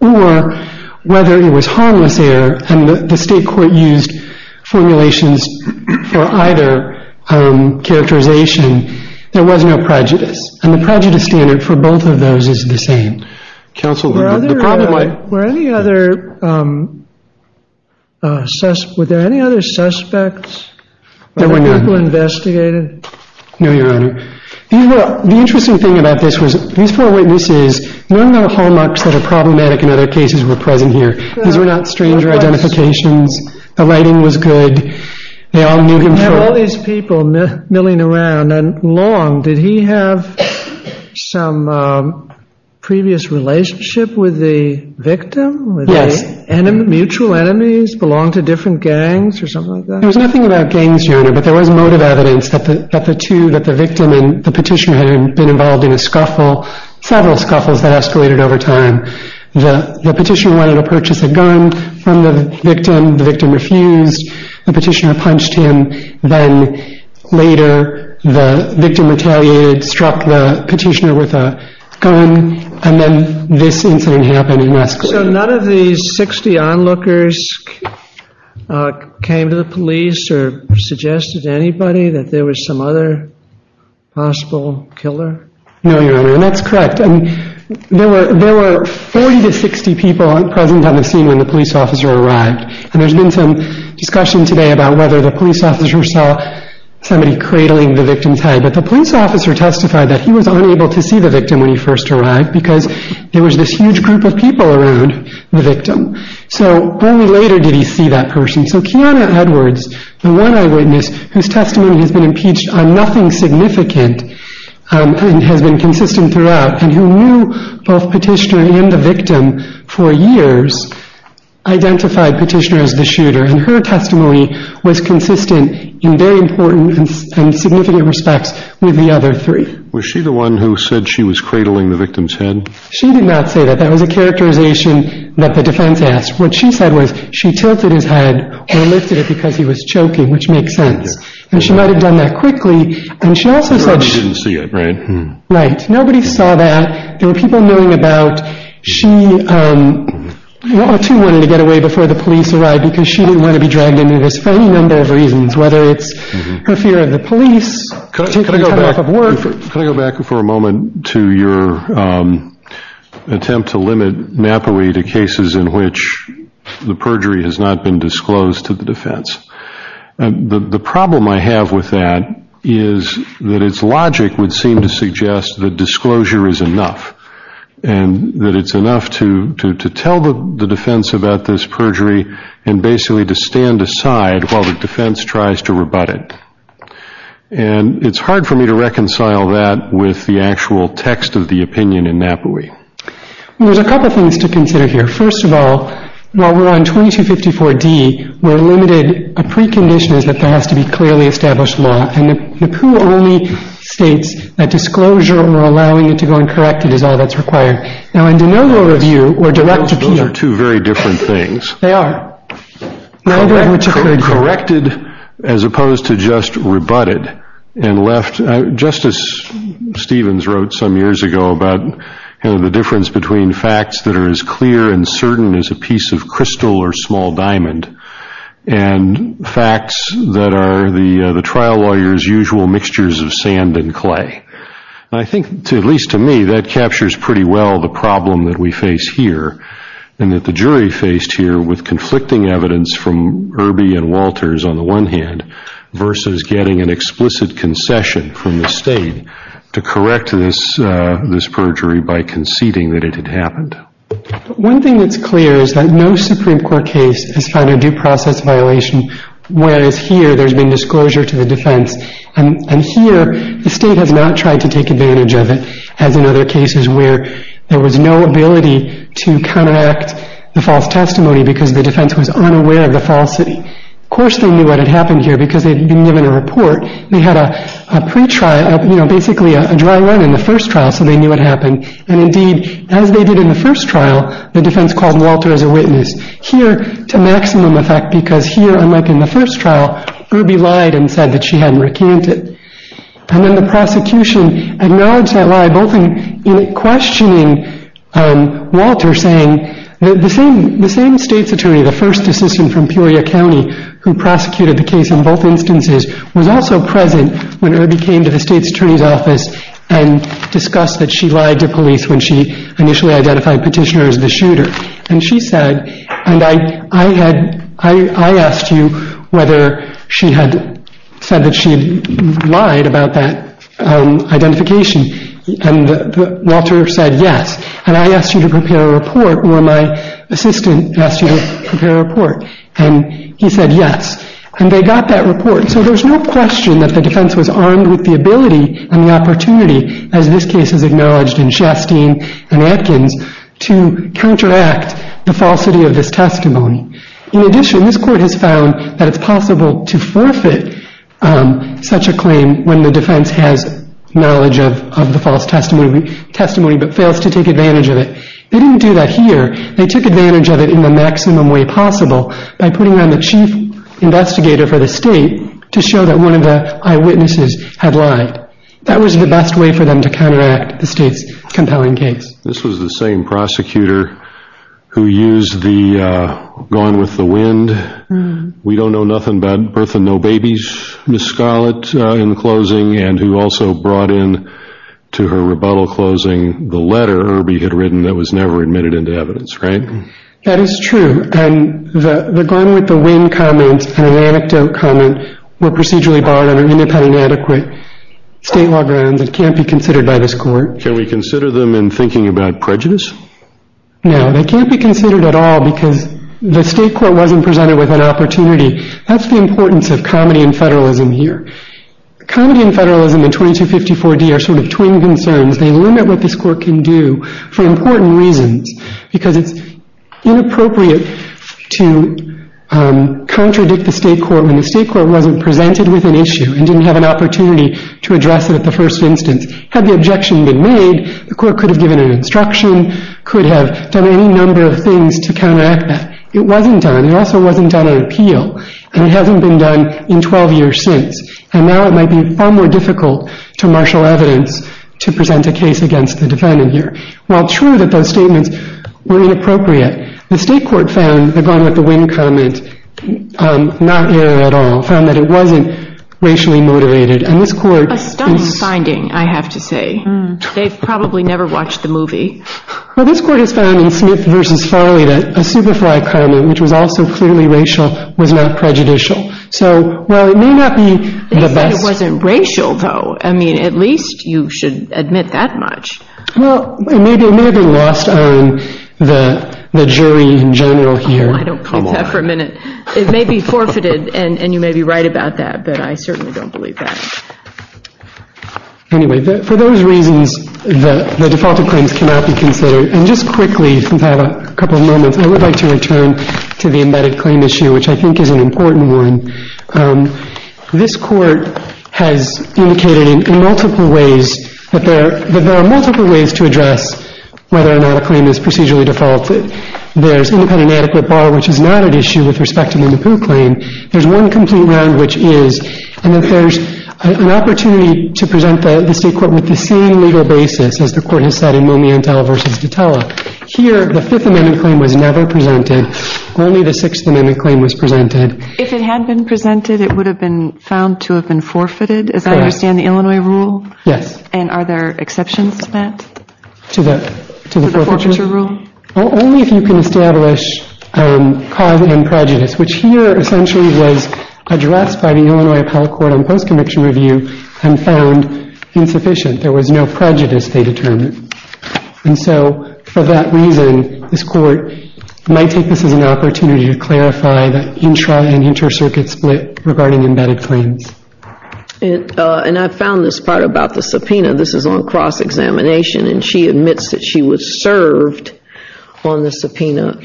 or whether it was harmless error, and the state court used formulations for either characterization, there was no prejudice. And the prejudice standard for both of those is the same. Were there any other suspects? There were none. Were there people investigated? No, Your Honor. The interesting thing about this was these four witnesses, none of the hallmarks that are problematic in other cases were present here. These were not stranger identifications. The lighting was good. They all knew him. There were all these people milling around, and Long, did he have some previous relationship with the victim? Yes. Mutual enemies, belonged to different gangs or something like that? There was nothing about gangs, Your Honor, but there was motive evidence that the two, that the victim and the petitioner had been involved in a scuffle, several scuffles that escalated over time. The petitioner wanted to purchase a gun from the victim. The victim refused. The petitioner punched him. Then later, the victim retaliated, struck the petitioner with a gun, and then this incident happened and escalated. So none of these 60 onlookers came to the police or suggested to anybody that there was some other possible killer? No, Your Honor, and that's correct. There were 40 to 60 people present on the scene when the police officer arrived. There's been some discussion today about whether the police officer saw somebody cradling the victim's head, but the police officer testified that he was unable to see the victim when he first arrived because there was this huge group of people around the victim. Only later did he see that person. So Kiana Edwards, the one eyewitness whose testimony has been impeached on nothing significant and has been consistent throughout and who knew both petitioner and the victim for years, identified petitioner as the shooter, and her testimony was consistent in very important and significant respects with the other three. Was she the one who said she was cradling the victim's head? She did not say that. That was a characterization that the defense asked. What she said was she tilted his head or lifted it because he was choking, which makes sense. And she might have done that quickly. And she also said she didn't see it, right? Right. Nobody saw that. There were people knowing about she wanted to get away before the police arrived because she didn't want to be dragged into this for any number of reasons, whether it's her fear of the police, taking time off of work. Can I go back for a moment to your attempt to limit NAPOE to cases in which the perjury has not been disclosed to the defense? The problem I have with that is that its logic would seem to suggest that disclosure is enough and that it's enough to tell the defense about this perjury and basically to stand aside while the defense tries to rebut it. And it's hard for me to reconcile that with the actual text of the opinion in NAPOE. There's a couple things to consider here. First of all, while we're on 2254D, we're limited. A precondition is that there has to be clearly established law. And NAPOE only states that disclosure or allowing it to go uncorrected is all that's required. Now, in de novo review or direct appeal. Those are two very different things. They are. Corrected as opposed to just rebutted and left. Justice Stevens wrote some years ago about the difference between facts that are as clear and certain as a piece of crystal or small diamond and facts that are the trial lawyer's usual mixtures of sand and clay. And I think, at least to me, that captures pretty well the problem that we face here and that the jury faced here with conflicting evidence from Irby and Walters on the one hand versus getting an explicit concession from the state to correct this perjury by conceding that it had happened. One thing that's clear is that no Supreme Court case has found a due process violation whereas here there's been disclosure to the defense. And here the state has not tried to take advantage of it, as in other cases where there was no ability to counteract the false testimony because the defense was unaware of the falsity. Of course they knew what had happened here because they'd been given a report. They had a pre-trial, basically a dry run in the first trial, so they knew what happened. And indeed, as they did in the first trial, the defense called Walter as a witness. Here to maximum effect because here, unlike in the first trial, Irby lied and said that she hadn't recanted. And then the prosecution acknowledged that lie both in questioning Walter, saying that the same state's attorney, the first assistant from Peoria County, who prosecuted the case in both instances, was also present when Irby came to the state's attorney's office and discussed that she lied to police when she initially identified Petitioner as the shooter. And she said, and I asked you whether she had said that she had lied about that identification, and Walter said yes, and I asked you to prepare a report, or my assistant asked you to prepare a report, and he said yes. And they got that report, so there's no question that the defense was armed with the ability and the opportunity, as this case is acknowledged in Shasteen and Atkins, to counteract the falsity of this testimony. In addition, this court has found that it's possible to forfeit such a claim when the defense has knowledge of the false testimony but fails to take advantage of it. They didn't do that here. They took advantage of it in the maximum way possible by putting on the chief investigator for the state to show that one of the eyewitnesses had lied. That was the best way for them to counteract the state's compelling case. This was the same prosecutor who used the gone with the wind, we don't know nothing about birth and no babies, Ms. Scarlett, in closing, and who also brought in to her rebuttal closing the letter Irby had written that was never admitted into evidence, right? That is true, and the gone with the wind comment and the anecdote comment were procedurally barred under independent and adequate state law grounds. It can't be considered by this court. Can we consider them in thinking about prejudice? No, they can't be considered at all because the state court wasn't presented with an opportunity. That's the importance of comedy and federalism here. Comedy and federalism in 2254D are sort of twin concerns. They limit what this court can do for important reasons because it's inappropriate to contradict the state court when the state court wasn't presented with an issue and didn't have an opportunity to address it at the first instance. Had the objection been made, the court could have given an instruction, could have done any number of things to counteract that. It wasn't done. It also wasn't done on appeal, and it hasn't been done in 12 years since, and now it might be far more difficult to marshal evidence to present a case against the defendant here. While true that those statements were inappropriate, the state court found the gone with the wind comment not error at all, found that it wasn't racially motivated, and this court A stunning finding, I have to say. They've probably never watched the movie. Well, this court has found in Smith v. Farley that a superfly comment, which was also clearly racial, was not prejudicial. So while it may not be the best They said it wasn't racial, though. I mean, at least you should admit that much. Well, it may be lost on the jury in general here. Oh, I don't believe that for a minute. It may be forfeited, and you may be right about that, I certainly don't believe that. Anyway, for those reasons, the defaulted claims cannot be considered. And just quickly, since I have a couple of moments, I would like to return to the embedded claim issue, which I think is an important one. This court has indicated in multiple ways that there are multiple ways to address whether or not a claim is procedurally defaulted. There's independent and adequate bar, which is not an issue with respect to the Mappu claim. There's one complete round, which is, and if there's an opportunity to present the state court with the same legal basis, as the court has said in Momiantel v. Detella, here the Fifth Amendment claim was never presented. Only the Sixth Amendment claim was presented. If it had been presented, it would have been found to have been forfeited, as I understand the Illinois rule? Yes. And are there exceptions to that? To the forfeiture rule? Only if you can establish cause and prejudice, which here essentially was addressed by the Illinois Appellate Court on post-conviction review and found insufficient. There was no prejudice they determined. And so for that reason, this court might take this as an opportunity to clarify the intra- and inter-circuit split regarding embedded claims. And I found this part about the subpoena. This is on cross-examination, and she admits that she was served on the subpoena.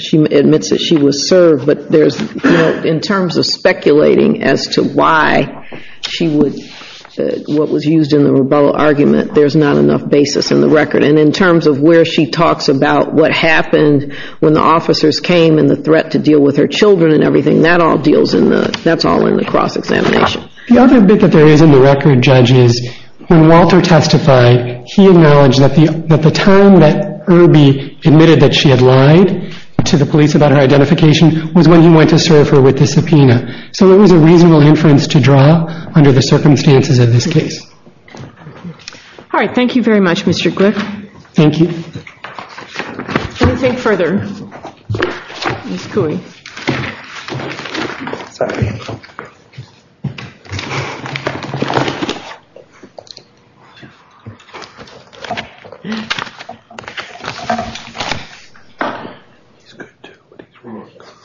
But in terms of speculating as to why what was used in the rebuttal argument, there's not enough basis in the record. And in terms of where she talks about what happened when the officers came and the threat to deal with her children and everything, that's all in the cross-examination. The other bit that there is in the record, Judge, is when Walter testified, he acknowledged that the time that Irby admitted that she had lied to the police about her identification was when he went to serve her with the subpoena. So there was a reasonable inference to draw under the circumstances of this case. All right, thank you very much, Mr. Glick. Thank you. Let me take further.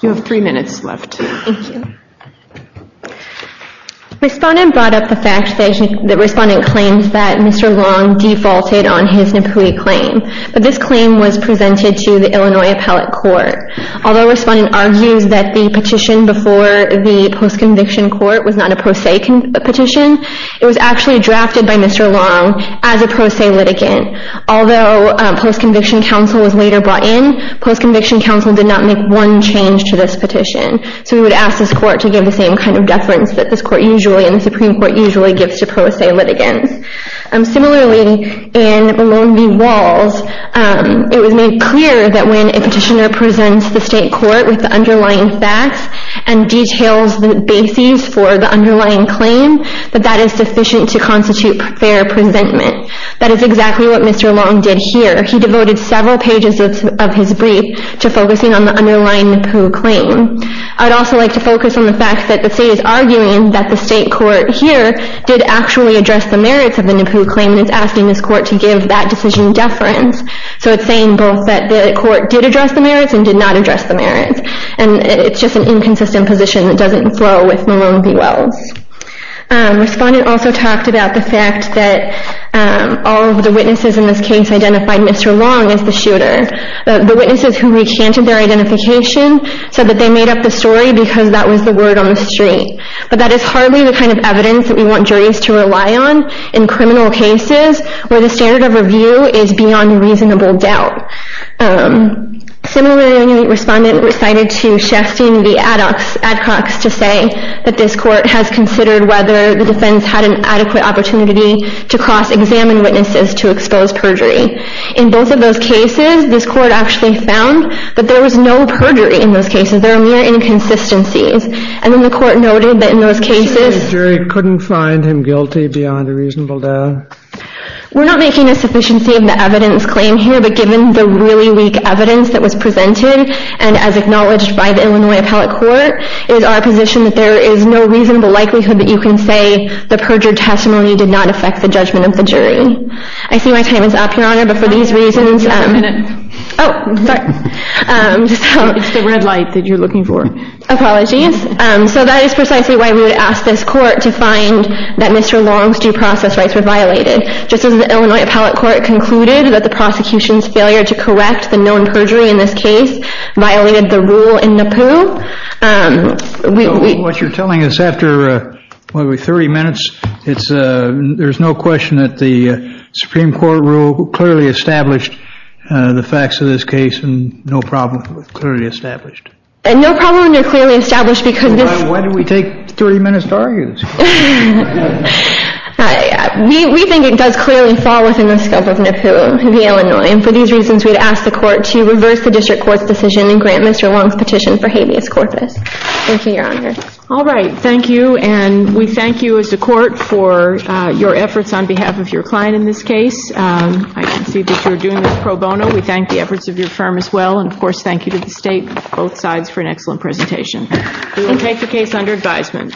You have three minutes left. Thank you. Respondent brought up the fact that the respondent claims that Mr. Long defaulted on his Napui claim. But this claim was presented to the Illinois Appellate Court. Although respondent argues that the petition before the post-conviction court was not a pro se petition, it was actually drafted by Mr. Long as a pro se litigant. Although post-conviction counsel was later brought in, post-conviction counsel did not make one change to this petition. So we would ask this court to give the same kind of deference that this court usually and the Supreme Court usually gives to pro se litigants. Similarly, in Maloney Walls, it was made clear that when a petitioner presents the state court with the underlying facts and details the bases for the underlying claim, that that is sufficient to constitute fair presentment. That is exactly what Mr. Long did here. He devoted several pages of his brief to focusing on the underlying Napui claim. I'd also like to focus on the fact that the state is arguing that the state court here did actually address the merits of the Napui claim and is asking this court to give that decision deference. So it's saying both that the court did address the merits and did not address the merits. And it's just an inconsistent position that doesn't flow with Maloney Walls. Respondent also talked about the fact that all of the witnesses in this case identified Mr. Long as the shooter. The witnesses who recanted their identification said that they made up the story because that was the word on the street. But that is hardly the kind of evidence that we want juries to rely on in criminal cases where the standard of review is beyond reasonable doubt. Similarly, Respondent recited to Sheffstein the ad hocs to say that this court has considered whether the defense had an adequate opportunity to cross-examine witnesses to expose perjury. In both of those cases, this court actually found that there was no perjury in those cases. There were mere inconsistencies. And then the court noted that in those cases the jury couldn't find him guilty beyond a reasonable doubt. We're not making a sufficiency of the evidence claim here, but given the really weak evidence that was presented and as acknowledged by the Illinois Appellate Court, it is our position that there is no reasonable likelihood that you can say the perjured testimony did not affect the judgment of the jury. I see my time is up, Your Honor, but for these reasons Just a minute. Oh, sorry. It's the red light that you're looking for. Apologies. So that is precisely why we would ask this court to find that Mr. Long's due process rights were violated. Just as the Illinois Appellate Court concluded that the prosecution's failure to correct the known perjury in this case violated the rule in NAPU. What you're telling us after, what, 30 minutes? There's no question that the Supreme Court rule clearly established the facts of this case and no problem with clearly established. No problem with clearly established because this Why did we take 30 minutes to argue this case? We think it does clearly fall within the scope of NAPU, the Illinois, and for these reasons we'd ask the court to reverse the district court's decision and grant Mr. Long's petition for habeas corpus. Thank you, Your Honor. All right, thank you, and we thank you as a court for your efforts on behalf of your client in this case. I can see that you're doing this pro bono. We thank the efforts of your firm as well, and of course thank you to the state, both sides, for an excellent presentation. We will take the case under advisement.